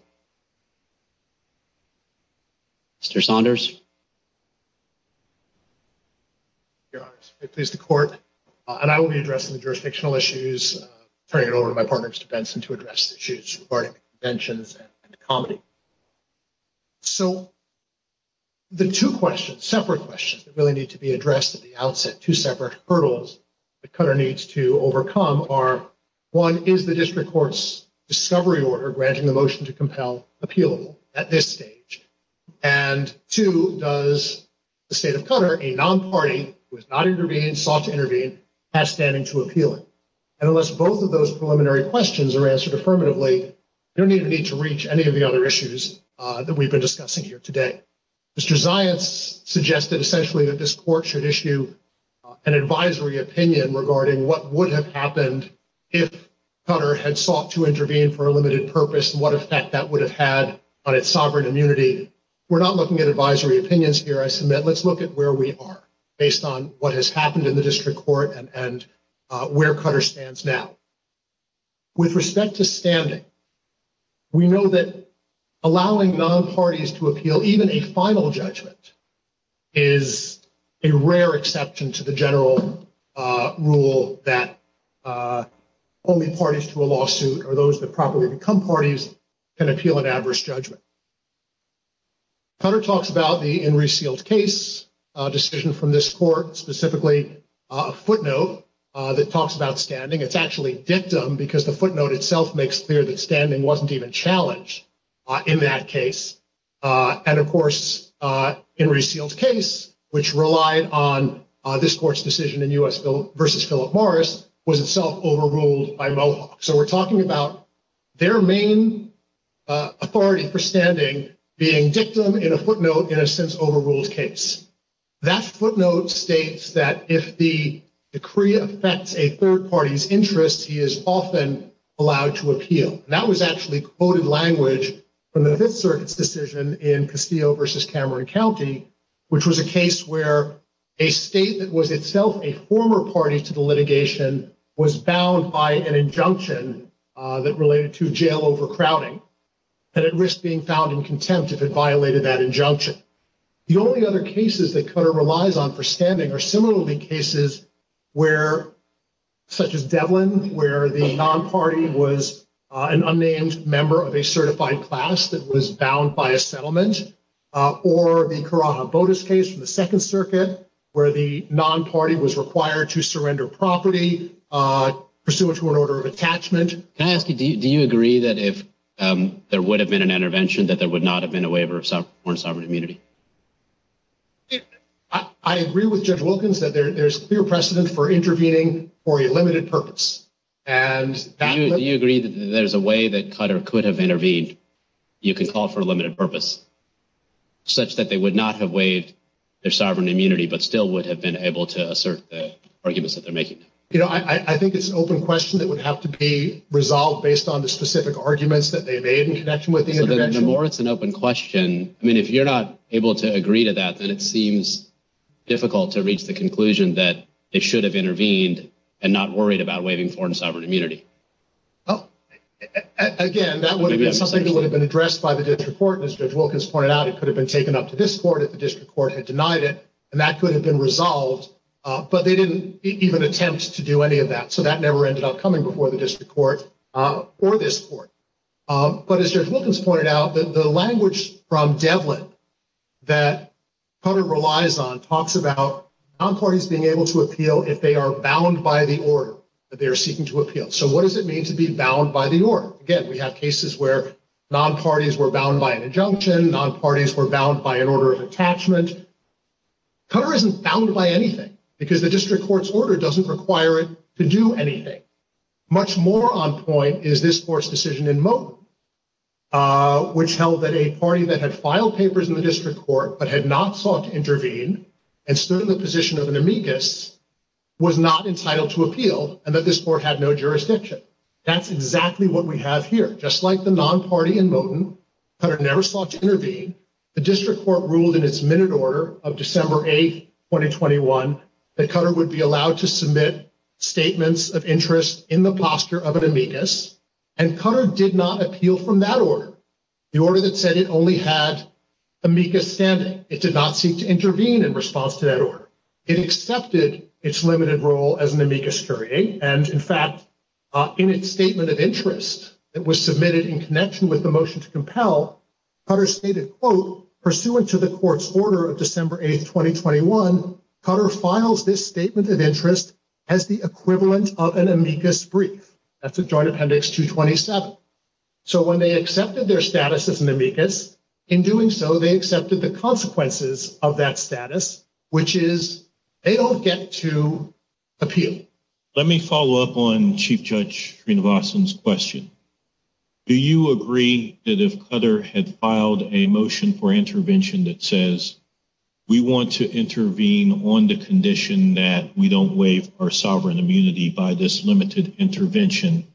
Mr. Saunders? Your Honor, it pleases the court. And I will be addressing the jurisdictional issues, turning it over to my partner, Mr. Benson, to address the issues regarding conventions and comedy. So, the two questions, separate questions that really need to be addressed at the outset, two separate hurdles that Cutter needs to overcome are, one, is the district court's discovery order granting the motion to compel appealable at this stage? And two, does the state of Cutter, a non-party who has not intervened, sought to intervene, has standing to appeal? And unless both of those preliminary questions are answered affirmatively, there is no need to reach any of the other issues that we've been discussing here today. Mr. Zias suggested, essentially, that this court should issue an advisory opinion regarding what would have happened if Cutter had sought to intervene for a limited purpose, and what effect that would have had on its sovereign immunity. We're not looking at advisory opinions here. I submit, let's look at where we are based on what has happened in the district court and where Cutter stands now. With respect to standing, we know that allowing non-parties to appeal, even a final judgment, is a rare exception to the general rule that only parties to a lawsuit, or those that properly become parties, can appeal an adverse judgment. Cutter talks about the in re-sealed case decision from this court, specifically a footnote that talks about standing. It's actually a dictum because the footnote itself makes clear that standing wasn't even challenged in that case. Of course, in re-sealed case, which relied on this court's decision in U.S. v. Philip Morris, was itself overruled by Mohawk. We're talking about their main authority for standing being dictum in a footnote in a sense overruled case. That footnote states that if the decree affects a third party's interest, he is often allowed to appeal. That was actually quoted language from the Fifth Circuit's decision in Castillo v. Cameron County, which was a case where a state that was itself a former party to the litigation was bound by an injunction that related to jail overcrowding, that it risked being found in contempt if it violated that injunction. The only other cases that Cutter relies on for standing are similarly cases where, such as Devlin, where the non-party was an unnamed member of a certified class that was bound by a settlement, or the Corana-Botis case from the Second Circuit, where the non-party was required to surrender property pursuant to an order of attachment. Can I ask you, do you agree that if there would have been an intervention, that there would not have been a waiver of sovereign immunity? I agree with Judge Wilkins that there's clear precedent for intervening for a limited purpose. Do you agree that there's a way that Cutter could have intervened, you could call for a limited purpose, such that they would not have waived their sovereign immunity, but still would have been able to assert the arguments that they're making? You know, I think it's an open question that would have to be resolved based on the specific arguments that they made in connection with the intervention. But the more it's an open question, I mean, if you're not able to agree to that, then it seems difficult to reach the conclusion that it should have intervened and not worried about waiving foreign sovereign immunity. Again, that would have been something that would have been addressed by the district court. As Judge Wilkins pointed out, it could have been taken up to this court if the district court had denied it, and that could have been resolved, but they didn't even attempt to do any of that. So that never ended up coming before the district court or this court. But as Judge Wilkins pointed out, the language from Devlin that Cutter relies on talks about non-parties being able to appeal if they are bound by the order that they're seeking to appeal. So what does it mean to be bound by the order? Again, we have cases where non-parties were bound by an injunction, non-parties were bound by an order of attachment. Cutter isn't bound by anything because the district court's order doesn't require it to do anything. Much more on point is this court's decision in Moten, which held that a party that had filed papers in the district court but had not sought to intervene and stood in the position of an amicus was not entitled to appeal and that this court had no jurisdiction. That's exactly what we have here. Just like the non-party in Moten, Cutter never sought to intervene. The district court ruled in its minute order of December 8, 2021, that Cutter would be allowed to submit statements of interest in the posture of an amicus, and Cutter did not appeal from that order. The order that said it only had amicus standard, it did not seek to intervene in response to that order. It accepted its limited role as an amicus curiae, and in fact, in its statement of interest that was submitted in connection with the motion to compel, Cutter stated, quote, pursuant to the court's order of December 8, 2021, Cutter files this statement of interest as the equivalent of an amicus brief. That's the Joint Appendix 227. So when they accepted their status as an amicus, in doing so, they accepted the consequences of that status, which is they don't get to appeal. Let me follow up on Chief Judge Srinivasan's question. Do you agree that if Cutter had filed a motion for intervention that says we want to intervene on the condition that we don't waive our sovereign immunity by this limited intervention,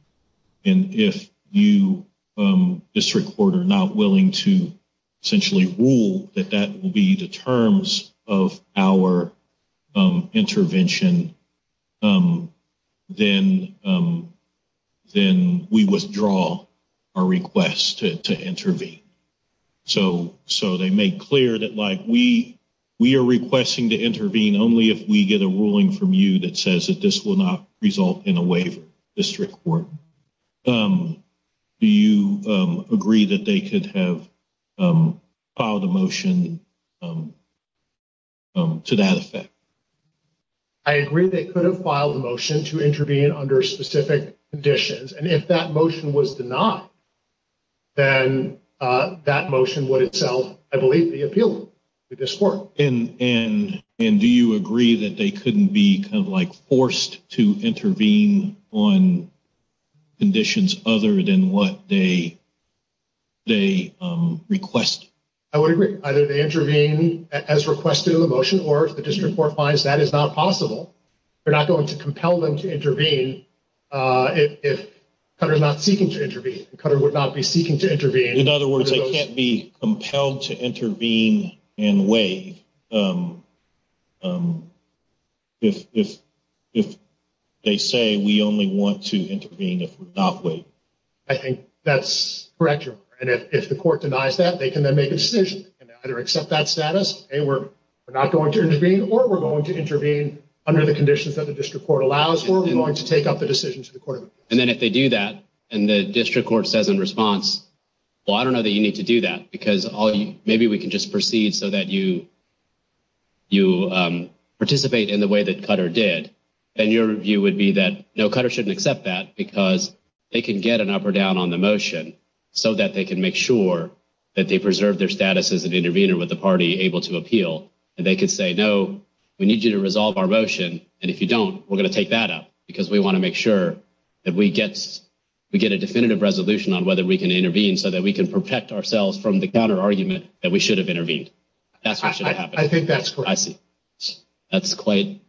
and if you, district court, are not willing to essentially rule that that will be the terms of our intervention, then we withdraw our request to intervene? So they made clear that, like, we are requesting to intervene only if we get a ruling from you that says that this will not result in a waiver, district court. Do you agree that they could have filed a motion to that effect? I agree they could have filed a motion to intervene under specific conditions, and if that motion was denied, then that motion would itself, I believe, be appealed to this court. And do you agree that they couldn't be kind of, like, forced to intervene on conditions other than what they request? I would agree. Either they intervene as requested in the motion, or if the district court finds that is not possible, they're not going to compel them to intervene if Cutter's not seeking to intervene. Cutter would not be seeking to intervene. In other words, they can't be compelled to intervene and waive if they say we only want to intervene if we're not waiving. I think that's correct, and if the court denies that, they can then make a decision. They can either accept that status, say we're not going to intervene, or we're going to intervene under the conditions that the district court allows for. We want to take up the decision to the court. And then if they do that, and the district court says in response, well, I don't know that you need to do that, because maybe we can just proceed so that you participate in the way that Cutter did, then your view would be that no, Cutter shouldn't accept that because they can get an up or down on the motion so that they can make sure that they preserve their status as an intervener with the party able to appeal. And they could say, no, we need you to resolve our motion, and if you don't, we're going to take that up because we want to make sure that we get a definitive resolution on whether we can intervene so that we can protect ourselves from the Cutter argument that we should have intervened. That's what should happen. I think that's correct. I see. That's quite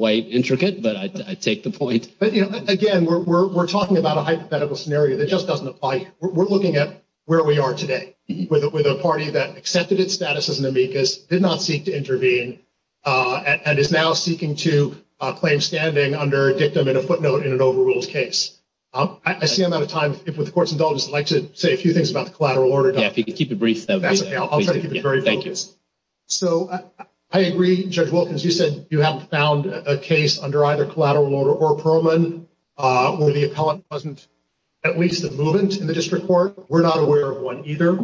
intricate, but I take the point. But, you know, again, we're talking about a hypothetical scenario that just doesn't apply. We're looking at where we are today with a party that accepted its status as an amicus, did not seek to intervene, and is now seeking to claim standing under a dictum and a footnote in an overrules case. I see I'm out of time. If the courts indulge, I'd like to say a few things about the collateral order. Keep it brief. I'll try to keep it short. Thank you. All right. So I agree. Judge Wilkins, you said you haven't found a case under either collateral order or Perlman. Will the appellant present at least a movement in the district court? We're not aware of one either.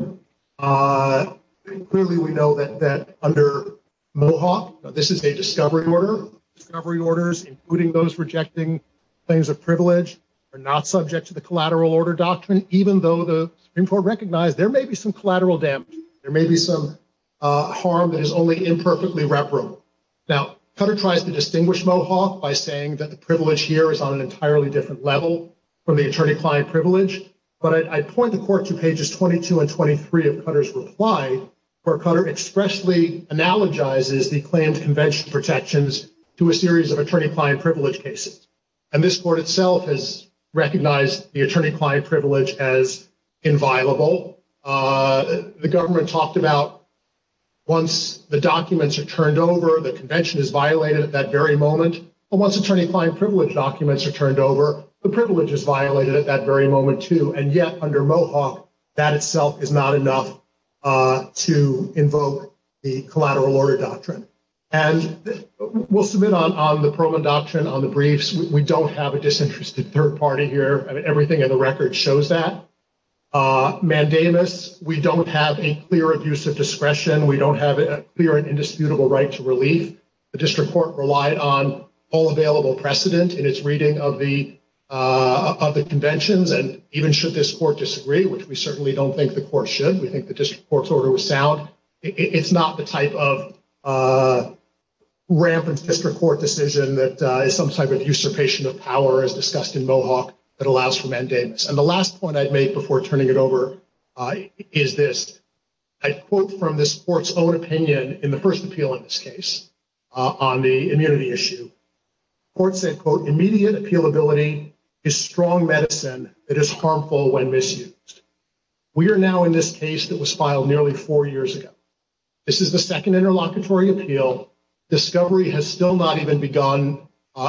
Clearly, we know that under Mohawk, this is a discovery order. Discovery orders, including those rejecting claims of privilege, are not subject to the collateral order document, even though the Supreme Court recognized there may be some collateral damage. There may be some harm that is only imperfectly reverent. Now, Cutter tries to distinguish Mohawk by saying that the privilege here is on an entirely different level from the attorney-client privilege. But I point the court to pages 22 and 23 of Cutter's reply, where Cutter expressly analogizes the claimed convention protections to a series of attorney-client privilege cases. And this court itself has recognized the attorney-client privilege as inviolable. The government talked about once the documents are turned over, the convention is violated at that very moment. But once attorney-client privilege documents are turned over, the privilege is violated at that very moment too. And yet, under Mohawk, that itself is not enough to invoke the collateral order doctrine. And we'll submit on the Perlman doctrine on the briefs. We don't have a disinterested third party here. Everything in the record shows that. Mandamus, we don't have a clear abuse of discretion. We don't have a clear and indisputable right to relief. The district court relied on all available precedent in its reading of the conventions. And even should this court disagree, which we certainly don't think the court should, we think the district court's order was sound, it's not the type of rampant district court decision that is some type of usurpation of power as discussed in Mohawk that allows for Mandamus. And the last point I'd make before turning it over is this. I quote from this court's own opinion in the first appeal in this case on the immunity issue. The court said, quote, immediate appealability is strong medicine that is harmful when misused. We are now in this case that was filed nearly four years ago. This is the second interlocutory appeal. Discovery has still not even begun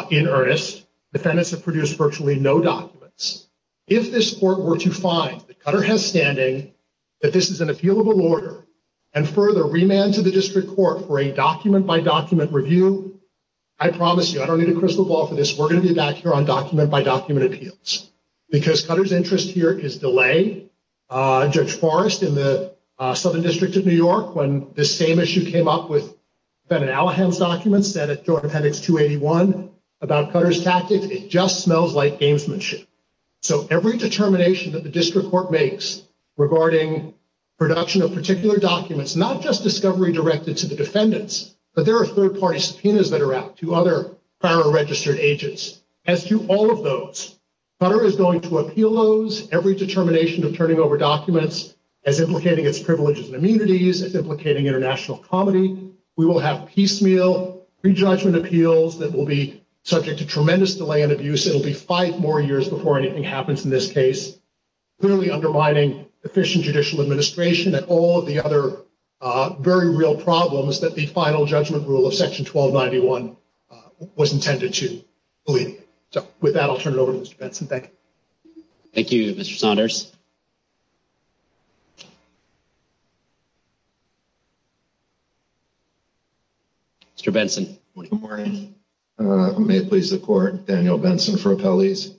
in earnest. The defendants have produced virtually no documents. If this court were to find that Cutter has standing, that this is an appealable order, and further remand to the district court for a document-by-document review, I promise you, I don't need a crystal ball for this, we're going to be back here on document-by-document appeals. Because Cutter's interest here is delayed. Judge Forrest in the Southern District of New York, when this same issue came up with Ben and Allahan's documents, and it sort of had its 281 about Cutter's tactics, it just smells like gamesmanship. So every determination that the district court makes regarding production of particular documents, not just discovery directed to the defendants, but there are third-party subpoenas that are out to other prior registered agents. As to all of those, Cutter is going to appeal those, every determination of turning over documents, as implicating its privileges and immunities, as implicating international comedy. We will have piecemeal prejudgment appeals that will be subject to tremendous delay and abuse. It will be five more years before anything happens in this case, clearly undermining efficient judicial administration and all of the other very real problems that the final judgment rule of Section 1291 was intended to. With that, I'll turn it over to Mr. Benson. Thank you. Thank you, Mr. Saunders. Mr. Benson. Good morning. May it please the Court, Daniel Benson for Appellees.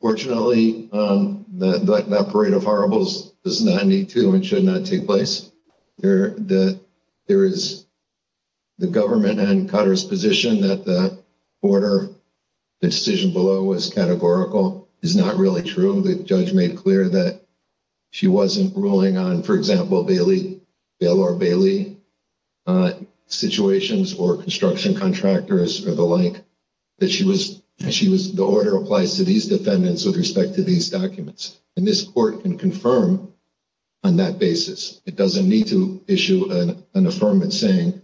Fortunately, that parade of horribles does not need to and should not take place. There is the government and Cutter's position that the order decision below was categorical is not really true. The judge made clear that she wasn't ruling on, for example, Bailey, Bailor Bailey situations or construction contractors or the like, that the order applies to these defendants with respect to these documents. And this Court can confirm on that basis. It doesn't need to issue an affirmance saying,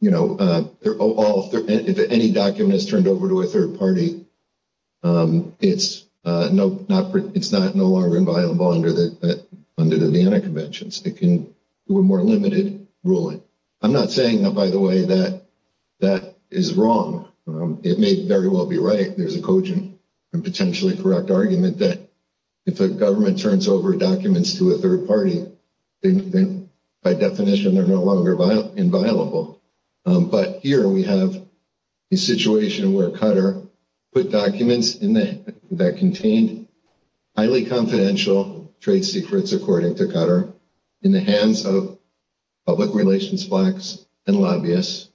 you know, if any document is turned over to a third party, it's not no longer inviolable under the Vienna Convention. It's a more limited ruling. I'm not saying, by the way, that that is wrong. It may very well be right. There's a potentially correct argument that if a government turns over documents to a third party, by definition, they're no longer inviolable. But here we have a situation where Cutter put documents that contained highly confidential trade secrets, according to Cutter, in the hands of public relations blocks and lobbyists,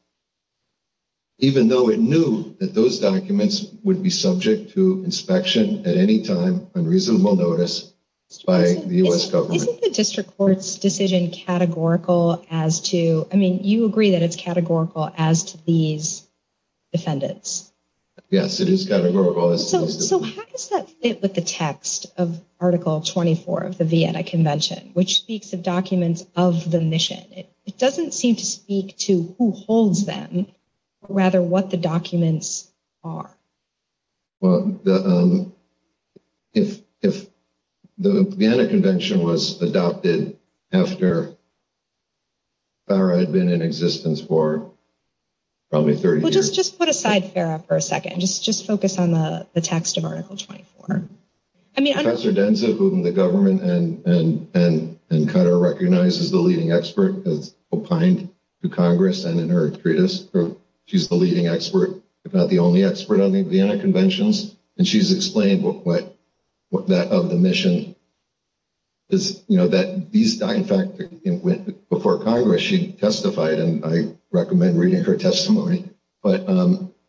even though it knew that those documents would be subject to inspection at any time on reasonable notice by the U.S. government. Isn't the district court's decision categorical as to, I mean, you agree that it's categorical as to these defendants? Yes, it is categorical. So how does that fit with the text of Article 24 of the Vienna Convention, which speaks of documents of the mission? It doesn't seem to speak to who holds them, but rather what the documents are. Well, the Vienna Convention was adopted after Farah had been in existence for probably 30 years. Well, just put aside Farah for a second. Just focus on the text of Article 24. Professor Denzel, who in the government and Cutter recognizes as the leading expert, has opined to Congress and in her treatise. She's the leading expert, if not the only expert, on the Vienna Conventions, and she's explained what that of the mission is, you know, that these documents, in fact, before Congress, she testified, and I recommend reading her testimony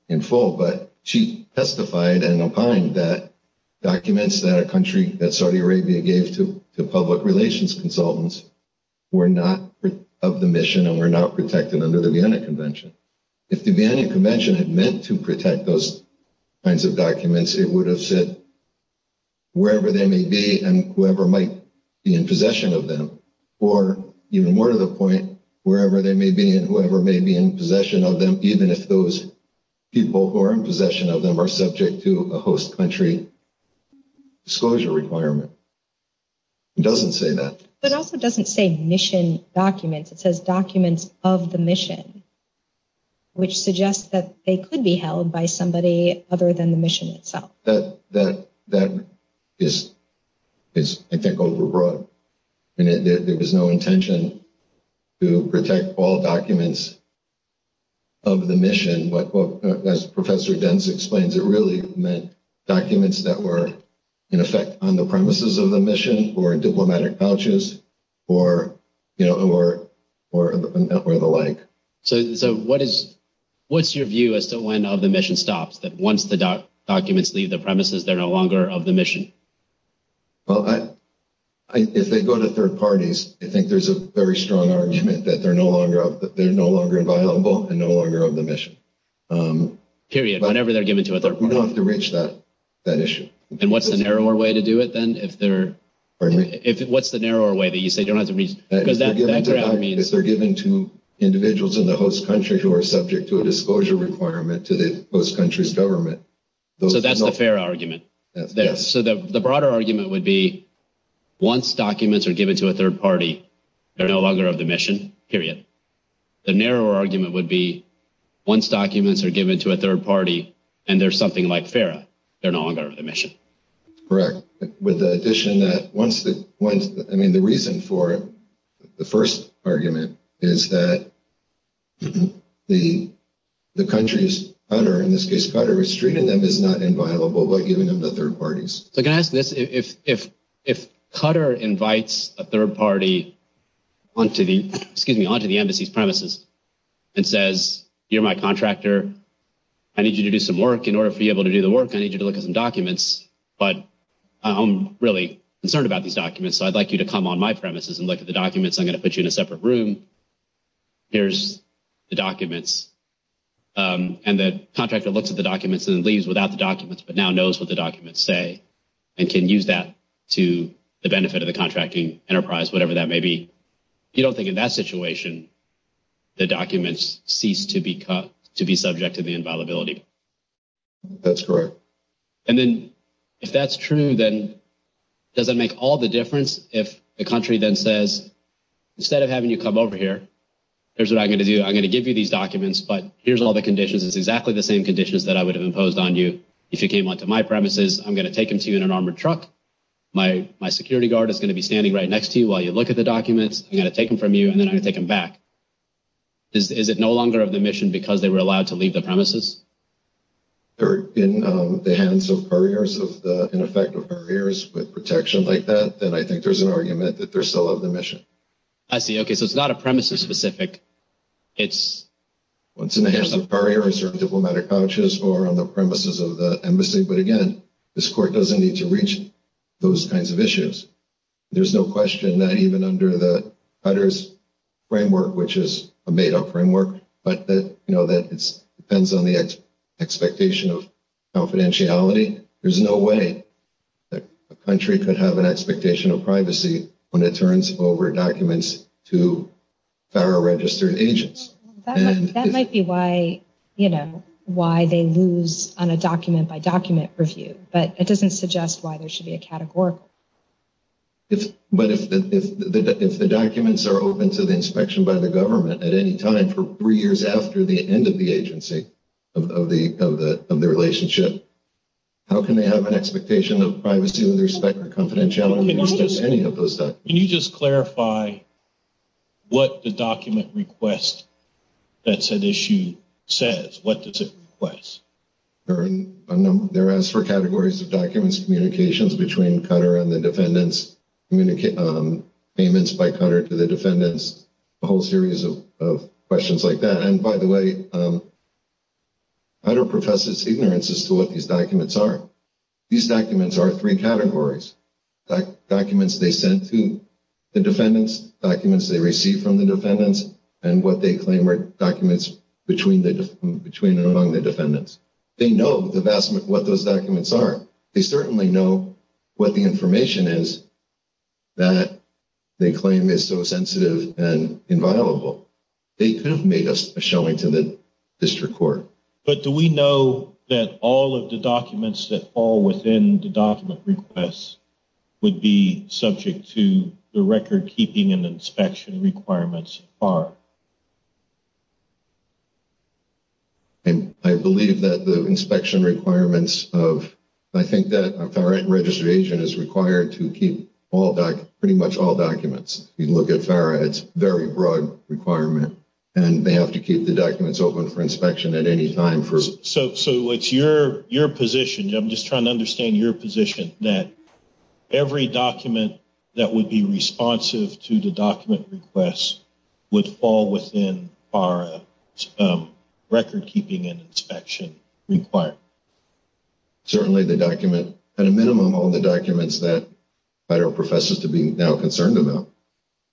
in full, but she testified and opined that documents that Saudi Arabia gave to public relations consultants were not of the mission and were not protected under the Vienna Convention. If the Vienna Convention had meant to protect those kinds of documents, it would have said, wherever they may be and whoever might be in possession of them, or even more to the point, wherever they may be and whoever may be in possession of them, even if those people who are in possession of them are subject to a host country disclosure requirement. It doesn't say that. It also doesn't say mission documents. It says documents of the mission, which suggests that they could be held by somebody other than the mission itself. That is, I think, overbroad. There was no intention to protect all documents of the mission. As Professor Dentz explains, it really meant documents that were, in effect, on the premises of the mission for diplomatic vouchers or the like. So what's your view as to when the mission stops, that once the documents leave the premises, they're no longer of the mission? Well, if they go to third parties, I think there's a very strong argument that they're no longer inviolable and no longer of the mission. Period. Whenever they're given to a third party. We don't have to reach that issue. And what's the narrower way to do it, then? Pardon me? What's the narrower way that you say you don't have to reach? If they're given to individuals in the host country who are subject to a disclosure requirement to the host country's government, So that's the fair argument there. So the broader argument would be once documents are given to a third party, they're no longer of the mission. Period. The narrower argument would be once documents are given to a third party and they're something like FARA, they're no longer of the mission. Correct. With the addition that once the, I mean, the reason for it, the first argument, is that the country's, in this case, Qatar, is not inviolable by giving them to third parties. So can I ask this? If Qatar invites a third party onto the embassy's premises and says, you're my contractor, I need you to do some work. In order for you to be able to do the work, I need you to look at some documents. But I'm really concerned about these documents, so I'd like you to come on my premises and look at the documents. I'm going to put you in a separate room. Here's the documents. And the contractor looks at the documents and leaves without the documents but now knows what the documents say and can use that to the benefit of the contracting enterprise, whatever that may be. You don't think in that situation the documents cease to be subject to the inviolability? That's correct. And then if that's true, then does it make all the difference if the country then says, instead of having you come over here, here's what I'm going to do. I'm going to give you these documents, but here's all the conditions. It's exactly the same conditions that I would have imposed on you if you came onto my premises. I'm going to take them to you in an armored truck. My security guard is going to be standing right next to you while you look at the documents. I'm going to take them from you, and then I'm going to take them back. Third, in the hands of barriers, in effect of barriers with protection like that, then I think there's an argument that they're still on the mission. I see, okay. So it's not a premises-specific. It's once in the hands of barriers or diplomatic vouchers or on the premises of the embassy. But again, this court doesn't need to reach those kinds of issues. There's no question that even under the Cutter's framework, which is a made-up framework, but that it depends on the expectation of confidentiality, there's no way that a country could have an expectation of privacy when it turns over documents to Federal Registered Agents. That might be why they lose on a document-by-document review, but it doesn't suggest why there should be a category. But if the documents are open to the inspection by the government at any time for three years after the end of the agency of the relationship, how can they have an expectation of privacy when they respect the confidentiality of any of those documents? Can you just clarify what the document request that's at issue says? What does it request? There are four categories of documents. Communications between Cutter and the defendants, payments by Cutter to the defendants, a whole series of questions like that. And by the way, Cutter professes ignorance as to what these documents are. These documents are three categories. Documents they sent to the defendants, documents they received from the defendants, and what they claim are documents between and among the defendants. They know what those documents are. They certainly know what the information is that they claim is so sensitive and inviolable. They could have made a showing to the district court. But do we know that all of the documents that fall within the document request would be subject to the record-keeping and inspection requirements of FARA? I believe that the inspection requirements of FARA registration is required to keep pretty much all documents. You look at FARA, it's a very broad requirement. And they have to keep the documents open for inspection at any time. So it's your position, I'm just trying to understand your position, that every document that would be responsive to the document request would fall within FARA's record-keeping and inspection requirements? Certainly the document, at a minimum, all the documents that FARA professes to be concerned about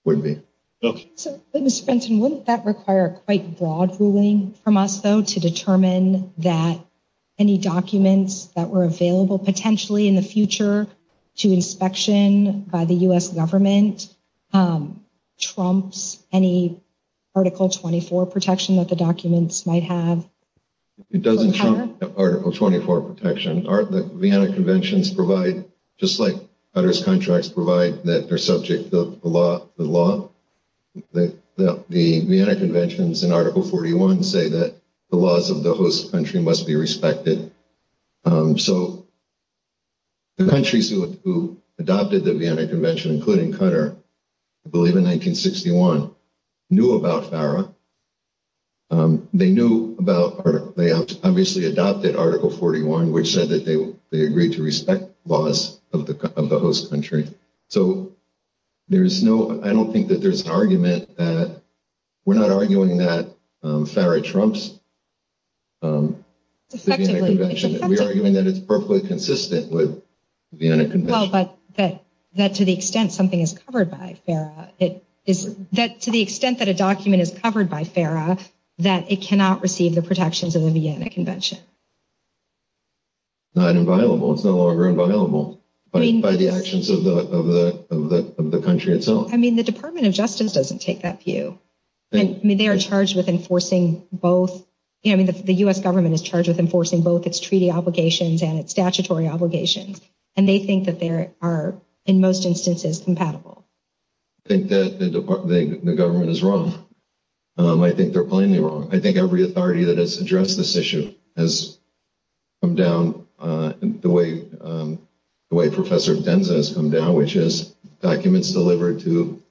would be. Mr. Benson, wouldn't that require a quite broad ruling from us, though, to determine that any documents that were available potentially in the future to inspection by the U.S. government trumps any Article 24 protection that the documents might have? It doesn't trump Article 24 protection. The Vienna Conventions provide, just like Qatar's contracts provide, that they're subject to the law. The Vienna Conventions in Article 41 say that the laws of the host country must be respected. So the countries who adopted the Vienna Convention, including Qatar, I believe in 1961, knew about FARA. They knew about, they obviously adopted Article 41, which said that they agreed to respect laws of the host country. So there's no, I don't think that there's an argument that, we're not arguing that FARA trumps the Vienna Convention. We're arguing that it's perfectly consistent with the Vienna Convention. Well, but that to the extent something is covered by FARA, that to the extent that a document is covered by FARA, that it cannot receive the protections of the Vienna Convention. It's not inviolable. It's no longer inviolable by the actions of the country itself. I mean, the Department of Justice doesn't take that view. I mean, they are charged with enforcing both, I mean, the U.S. government is charged with enforcing both its treaty obligations and its statutory obligations, and they think that they are, in most instances, compatible. I think that the government is wrong. I think they're plainly wrong. I think every authority that has addressed this issue has come down the way Professor Demza has come down, which is documents delivered to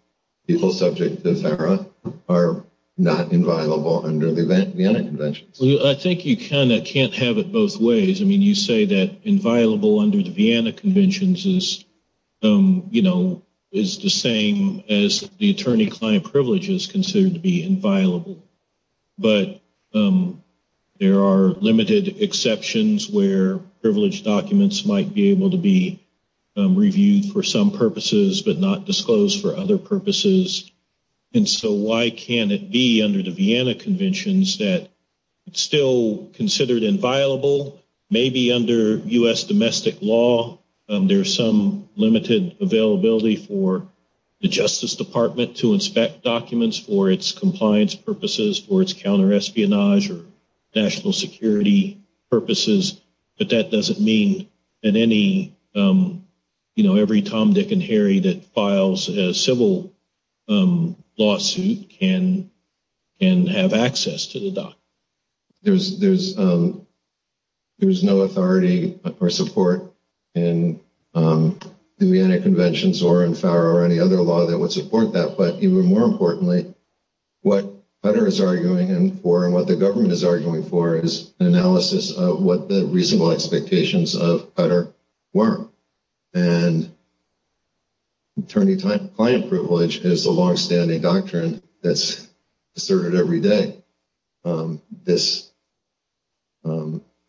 people subject to FARA are not inviolable under the Vienna Convention. Well, I think you kind of can't have it both ways. I mean, you say that inviolable under the Vienna Convention is, you know, is the same as the attorney-client privilege is considered to be inviolable. But there are limited exceptions where privileged documents might be able to be reviewed for some purposes but not disclosed for other purposes. And so why can't it be under the Vienna Conventions that it's still considered inviolable? Maybe under U.S. domestic law, there's some limited availability for the Justice Department to inspect documents for its compliance purposes, for its counterespionage or national security purposes. But that doesn't mean that every Tom, Dick, and Harry that files a civil lawsuit can have access to the documents. There's no authority or support in the Vienna Conventions or in FARA or any other law that would support that. But even more importantly, what Qatar is arguing for and what the government is arguing for is analysis of what the reasonable expectations of Qatar were. And attorney-client privilege is a longstanding doctrine that's asserted every day. This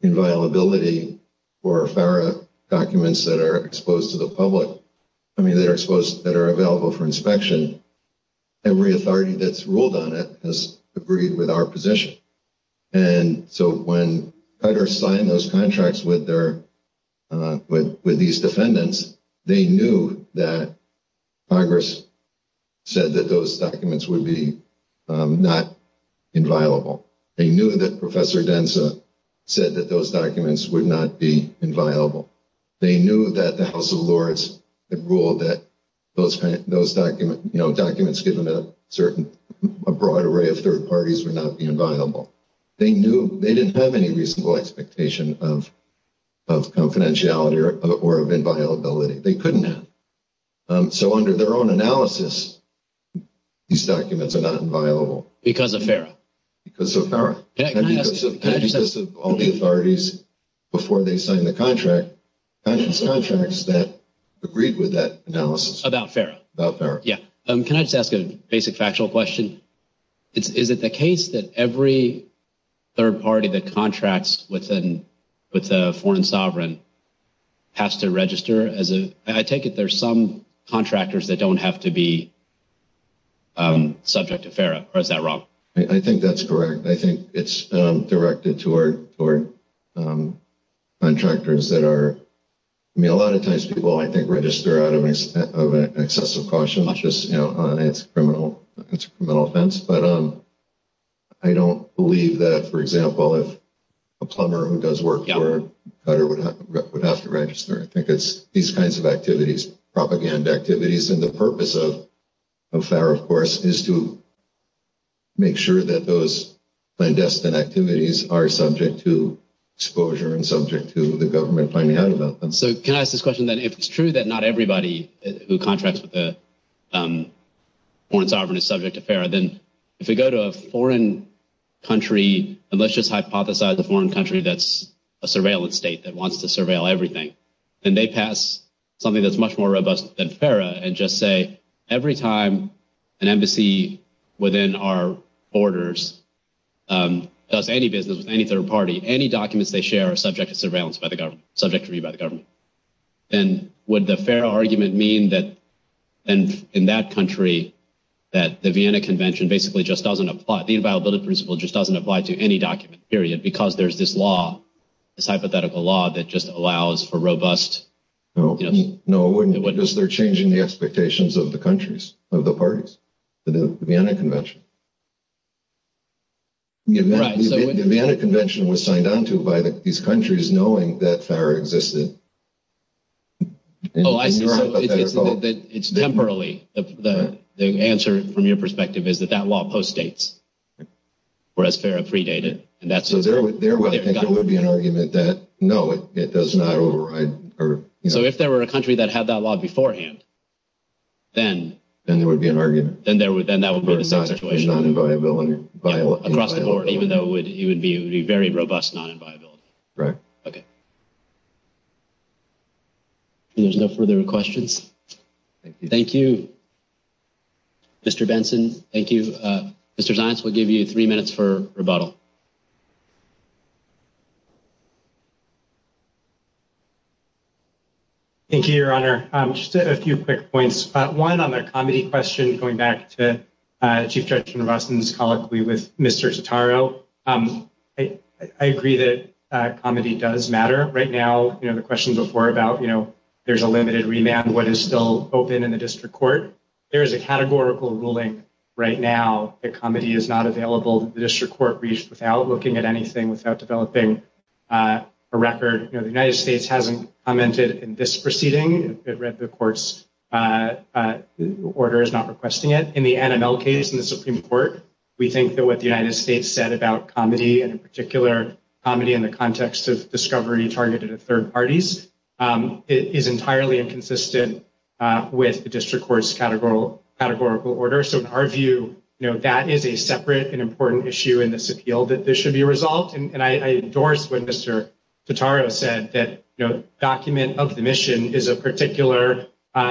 inviolability for FARA documents that are exposed to the public, I mean, that are available for inspection, every authority that's ruled on it has agreed with our position. And so when Qatar signed those contracts with these defendants, they knew that Congress said that those documents would be not inviolable. They knew that Professor Densa said that those documents would not be inviolable. They knew that the House of Lords had ruled that those documents given to a certain, a broad array of third parties would not be inviolable. They knew, they didn't have any reasonable expectation of confidentiality or inviolability. They couldn't have. So under their own analysis, these documents are not inviolable. Because of FARA. Because of FARA. Because of all the authorities before they signed the contract. Contracts that agreed with that analysis. About FARA. About FARA. Yeah. Can I just ask a basic factual question? Is it the case that every third party that contracts with a foreign sovereign has to register as a, I take it there's some contractors that don't have to be subject to FARA. Or is that wrong? I think that's correct. I think it's directed toward contractors that are, I mean a lot of times people I think register out of excessive caution. Just, you know, it's a criminal offense. But I don't believe that, for example, if a plumber who does work for a cutter would have to register. I think it's these kinds of activities, propaganda activities. And the purpose of FARA, of course, is to make sure that those clandestine activities are subject to exposure and subject to the government finding out about them. So can I ask this question then? If it's true that not everybody who contracts with a foreign sovereign is subject to FARA, then if you go to a foreign country, and let's just hypothesize a foreign country that's a surveillance state that wants to surveil everything, then they pass something that's much more robust than FARA and just say, every time an embassy within our borders does any business with any third party, any documents they share are subject to surveillance by the government, subject to review by the government. Then would the FARA argument mean that in that country that the Vienna Convention basically just doesn't apply, the inviolability principle just doesn't apply to any document period because there's this law, this hypothetical law that just allows for robust… No, no, it wouldn't. Because they're changing the expectations of the countries, of the parties, the Vienna Convention. The Vienna Convention was signed on to by these countries knowing that FARA existed. It's temporally. The answer from your perspective is that that law postdates, whereas FARA predated. So there would be an argument that, no, it does not override. So if there were a country that had that law beforehand, then… Then there would be an argument. Then that would put the situation across the board, even though it would be a very robust non-inviolability. Right. Okay. If there's no further questions. Thank you. Thank you, Mr. Benson. Thank you. Mr. Zients, we'll give you three minutes for rebuttal. Thank you, Your Honor. Just a few quick points. One, on the comity question, going back to Chief Justice Robertson's colloquy with Mr. Totaro, I agree that comity does matter. Right now, you know, the question before about, you know, there's a limited remand. What is still open in the district court? There is a categorical ruling right now that comity is not available. The district court reached without looking at anything, without developing a record. You know, the United States hasn't commented in this proceeding. It read the court's order. It's not requesting it. In the NML case in the Supreme Court, we think that what the United States said about comity, and in particular, comity in the context of discovery targeted at third parties, is entirely inconsistent with the district court's categorical order. So in our view, you know, that is a separate and important issue in this appeal that there should be a result. And I endorsed what Mr. Totaro said, that, you know, document of the mission is a particular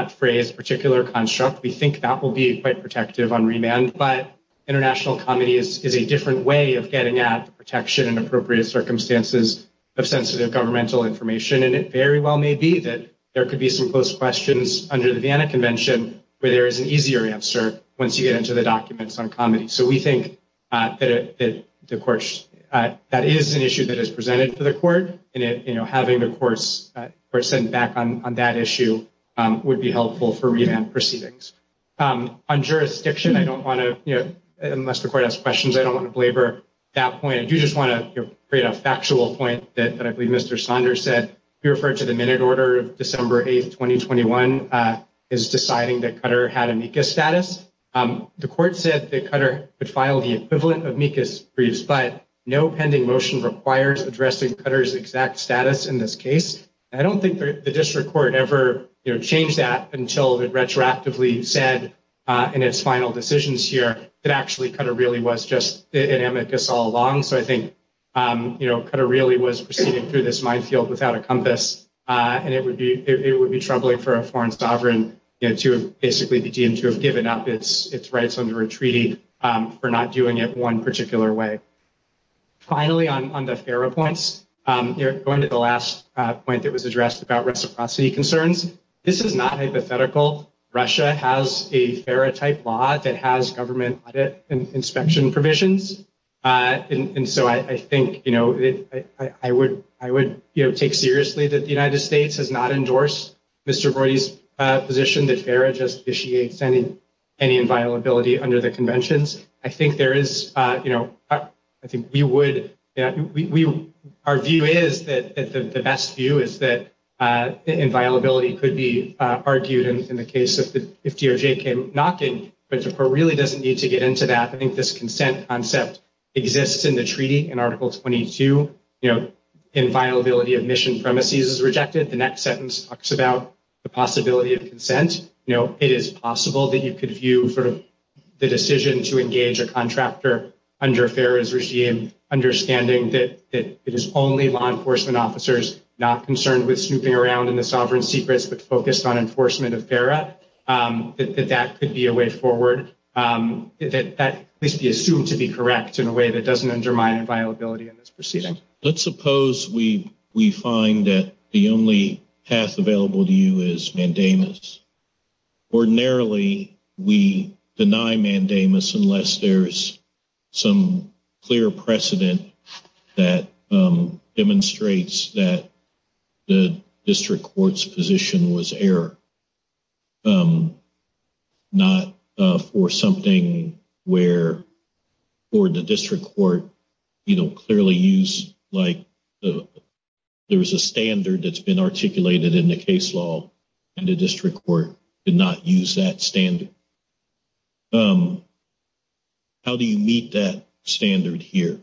phrase, particular construct. We think that will be quite protective on remand. But international comity is a different way of getting at protection in appropriate circumstances of sensitive governmental information. And it very well may be that there could be some close questions under the Vienna Convention where there is an easier answer once you get into the documents on comity. So we think that is an issue that is presented to the court. And, you know, having the court's person back on that issue would be helpful for remand proceedings. On jurisdiction, I don't want to, you know, unless the court has questions, I don't want to belabor that point. I do just want to create a factual point that I believe Mr. Saunders said. He referred to the minute order of December 8, 2021 as deciding that Cutter had amicus status. The court said that Cutter could file the equivalent of amicus briefs, but no pending motion requires addressing Cutter's exact status in this case. I don't think the district court ever, you know, changed that until it retroactively said in its final decisions here that actually Cutter really was just in amicus all along. So I think, you know, Cutter really was proceeding through this minefield without a compass. And it would be troubling for a foreign sovereign to basically be deemed to have given up its rights under a treaty for not doing it one particular way. Finally, on the FARA points, going to the last point that was addressed about reciprocity concerns. This is not hypothetical. Russia has a FARA type law that has government inspection provisions. And so I think, you know, I would take seriously that the United States has not endorsed Mr. Brody's position that FARA justitiates any inviolability under the conventions. I think there is, you know, I think we would argue is that the best view is that inviolability could be argued in the case of the DOJ came knocking. But the court really doesn't need to get into that. I think this consent concept exists in the treaty in Article 22. You know, inviolability of mission premises is rejected. The next sentence talks about the possibility of consent. You know, it is possible that you could view sort of the decision to engage a contractor under FARA's regime, understanding that it is only law enforcement officers not concerned with snooping around in the sovereign secrets but focused on enforcement of FARA, that that could be a way forward, that that could be assumed to be correct in a way that doesn't undermine inviolability in this proceeding. Let's suppose we find that the only path available to you is mandamus. Ordinarily, we deny mandamus unless there is some clear precedent that demonstrates that the district court's position was error, not for something where the district court, you know, clearly used like there was a standard that's been articulated in the case law and the district court did not use that standard. How do you meet that standard here?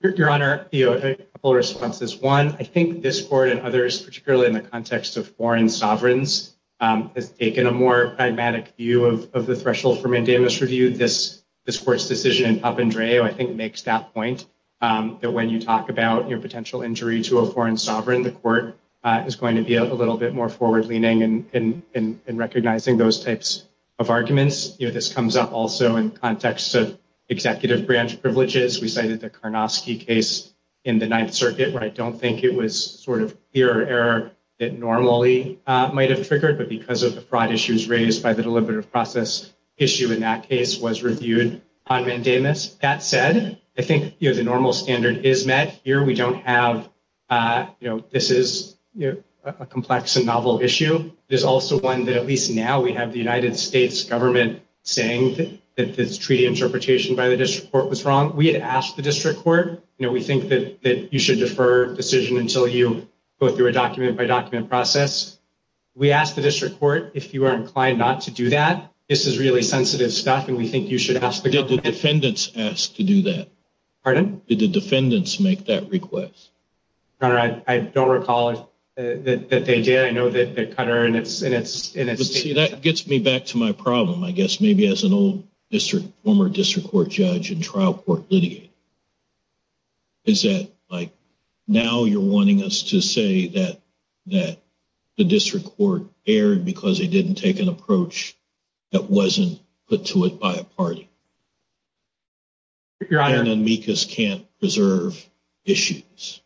Your Honor, a couple of responses. One, I think this court and others, particularly in the context of foreign sovereigns, have taken a more pragmatic view of the threshold for mandamus review. This court's decision in Papandreou, I think, makes that point, that when you talk about your potential injury to a foreign sovereign, the court is going to be a little bit more forward-leaning in recognizing those types of arguments. This comes up also in context of executive branch privileges. We cited the Karnofsky case in the Ninth Circuit, where I don't think it was sort of clear error that normally might have triggered, but because of the broad issues raised by the deliberative process, the issue in that case was reviewed on mandamus. That said, I think the normal standard is met. Here, we don't have, you know, this is a complex and novel issue. There's also one that at least now we have the United States government saying that this treaty interpretation by the district court was wrong. We had asked the district court, you know, we think that you should defer decision until you go through a document-by-document process. We asked the district court if you are inclined not to do that. This is really sensitive stuff, and we think you should ask the district court. Did the defendants ask to do that? Pardon? Did the defendants make that request? Your Honor, I don't recall that they did. That gets me back to my problem, I guess, maybe as an old former district court judge and trial court litigate. Is that, like, now you're wanting us to say that the district court erred because it didn't take an approach that wasn't put to it by a party? Your Honor. And then Mikas can't preserve issues.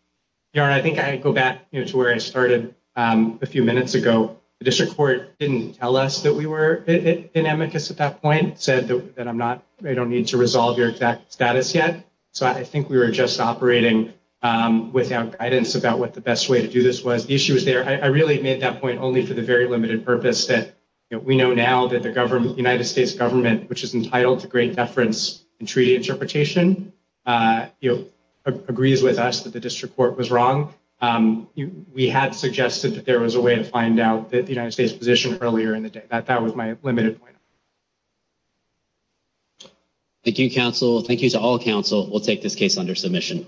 Your Honor, I think I go back to where I started a few minutes ago. The district court didn't tell us that we were in amicus at that point, said that I don't need to resolve your exact status yet. So I think we were just operating without guidance about what the best way to do this was. The issue is there. I really made that point only for the very limited purpose that we know now that the United States government, which is entitled to great deference in treaty interpretation, agrees with us that the district court was wrong. We had suggested that there was a way to find out the United States position earlier in the day. That was my limited point. Thank you, counsel. Thank you to all counsel. We'll take this case under submission.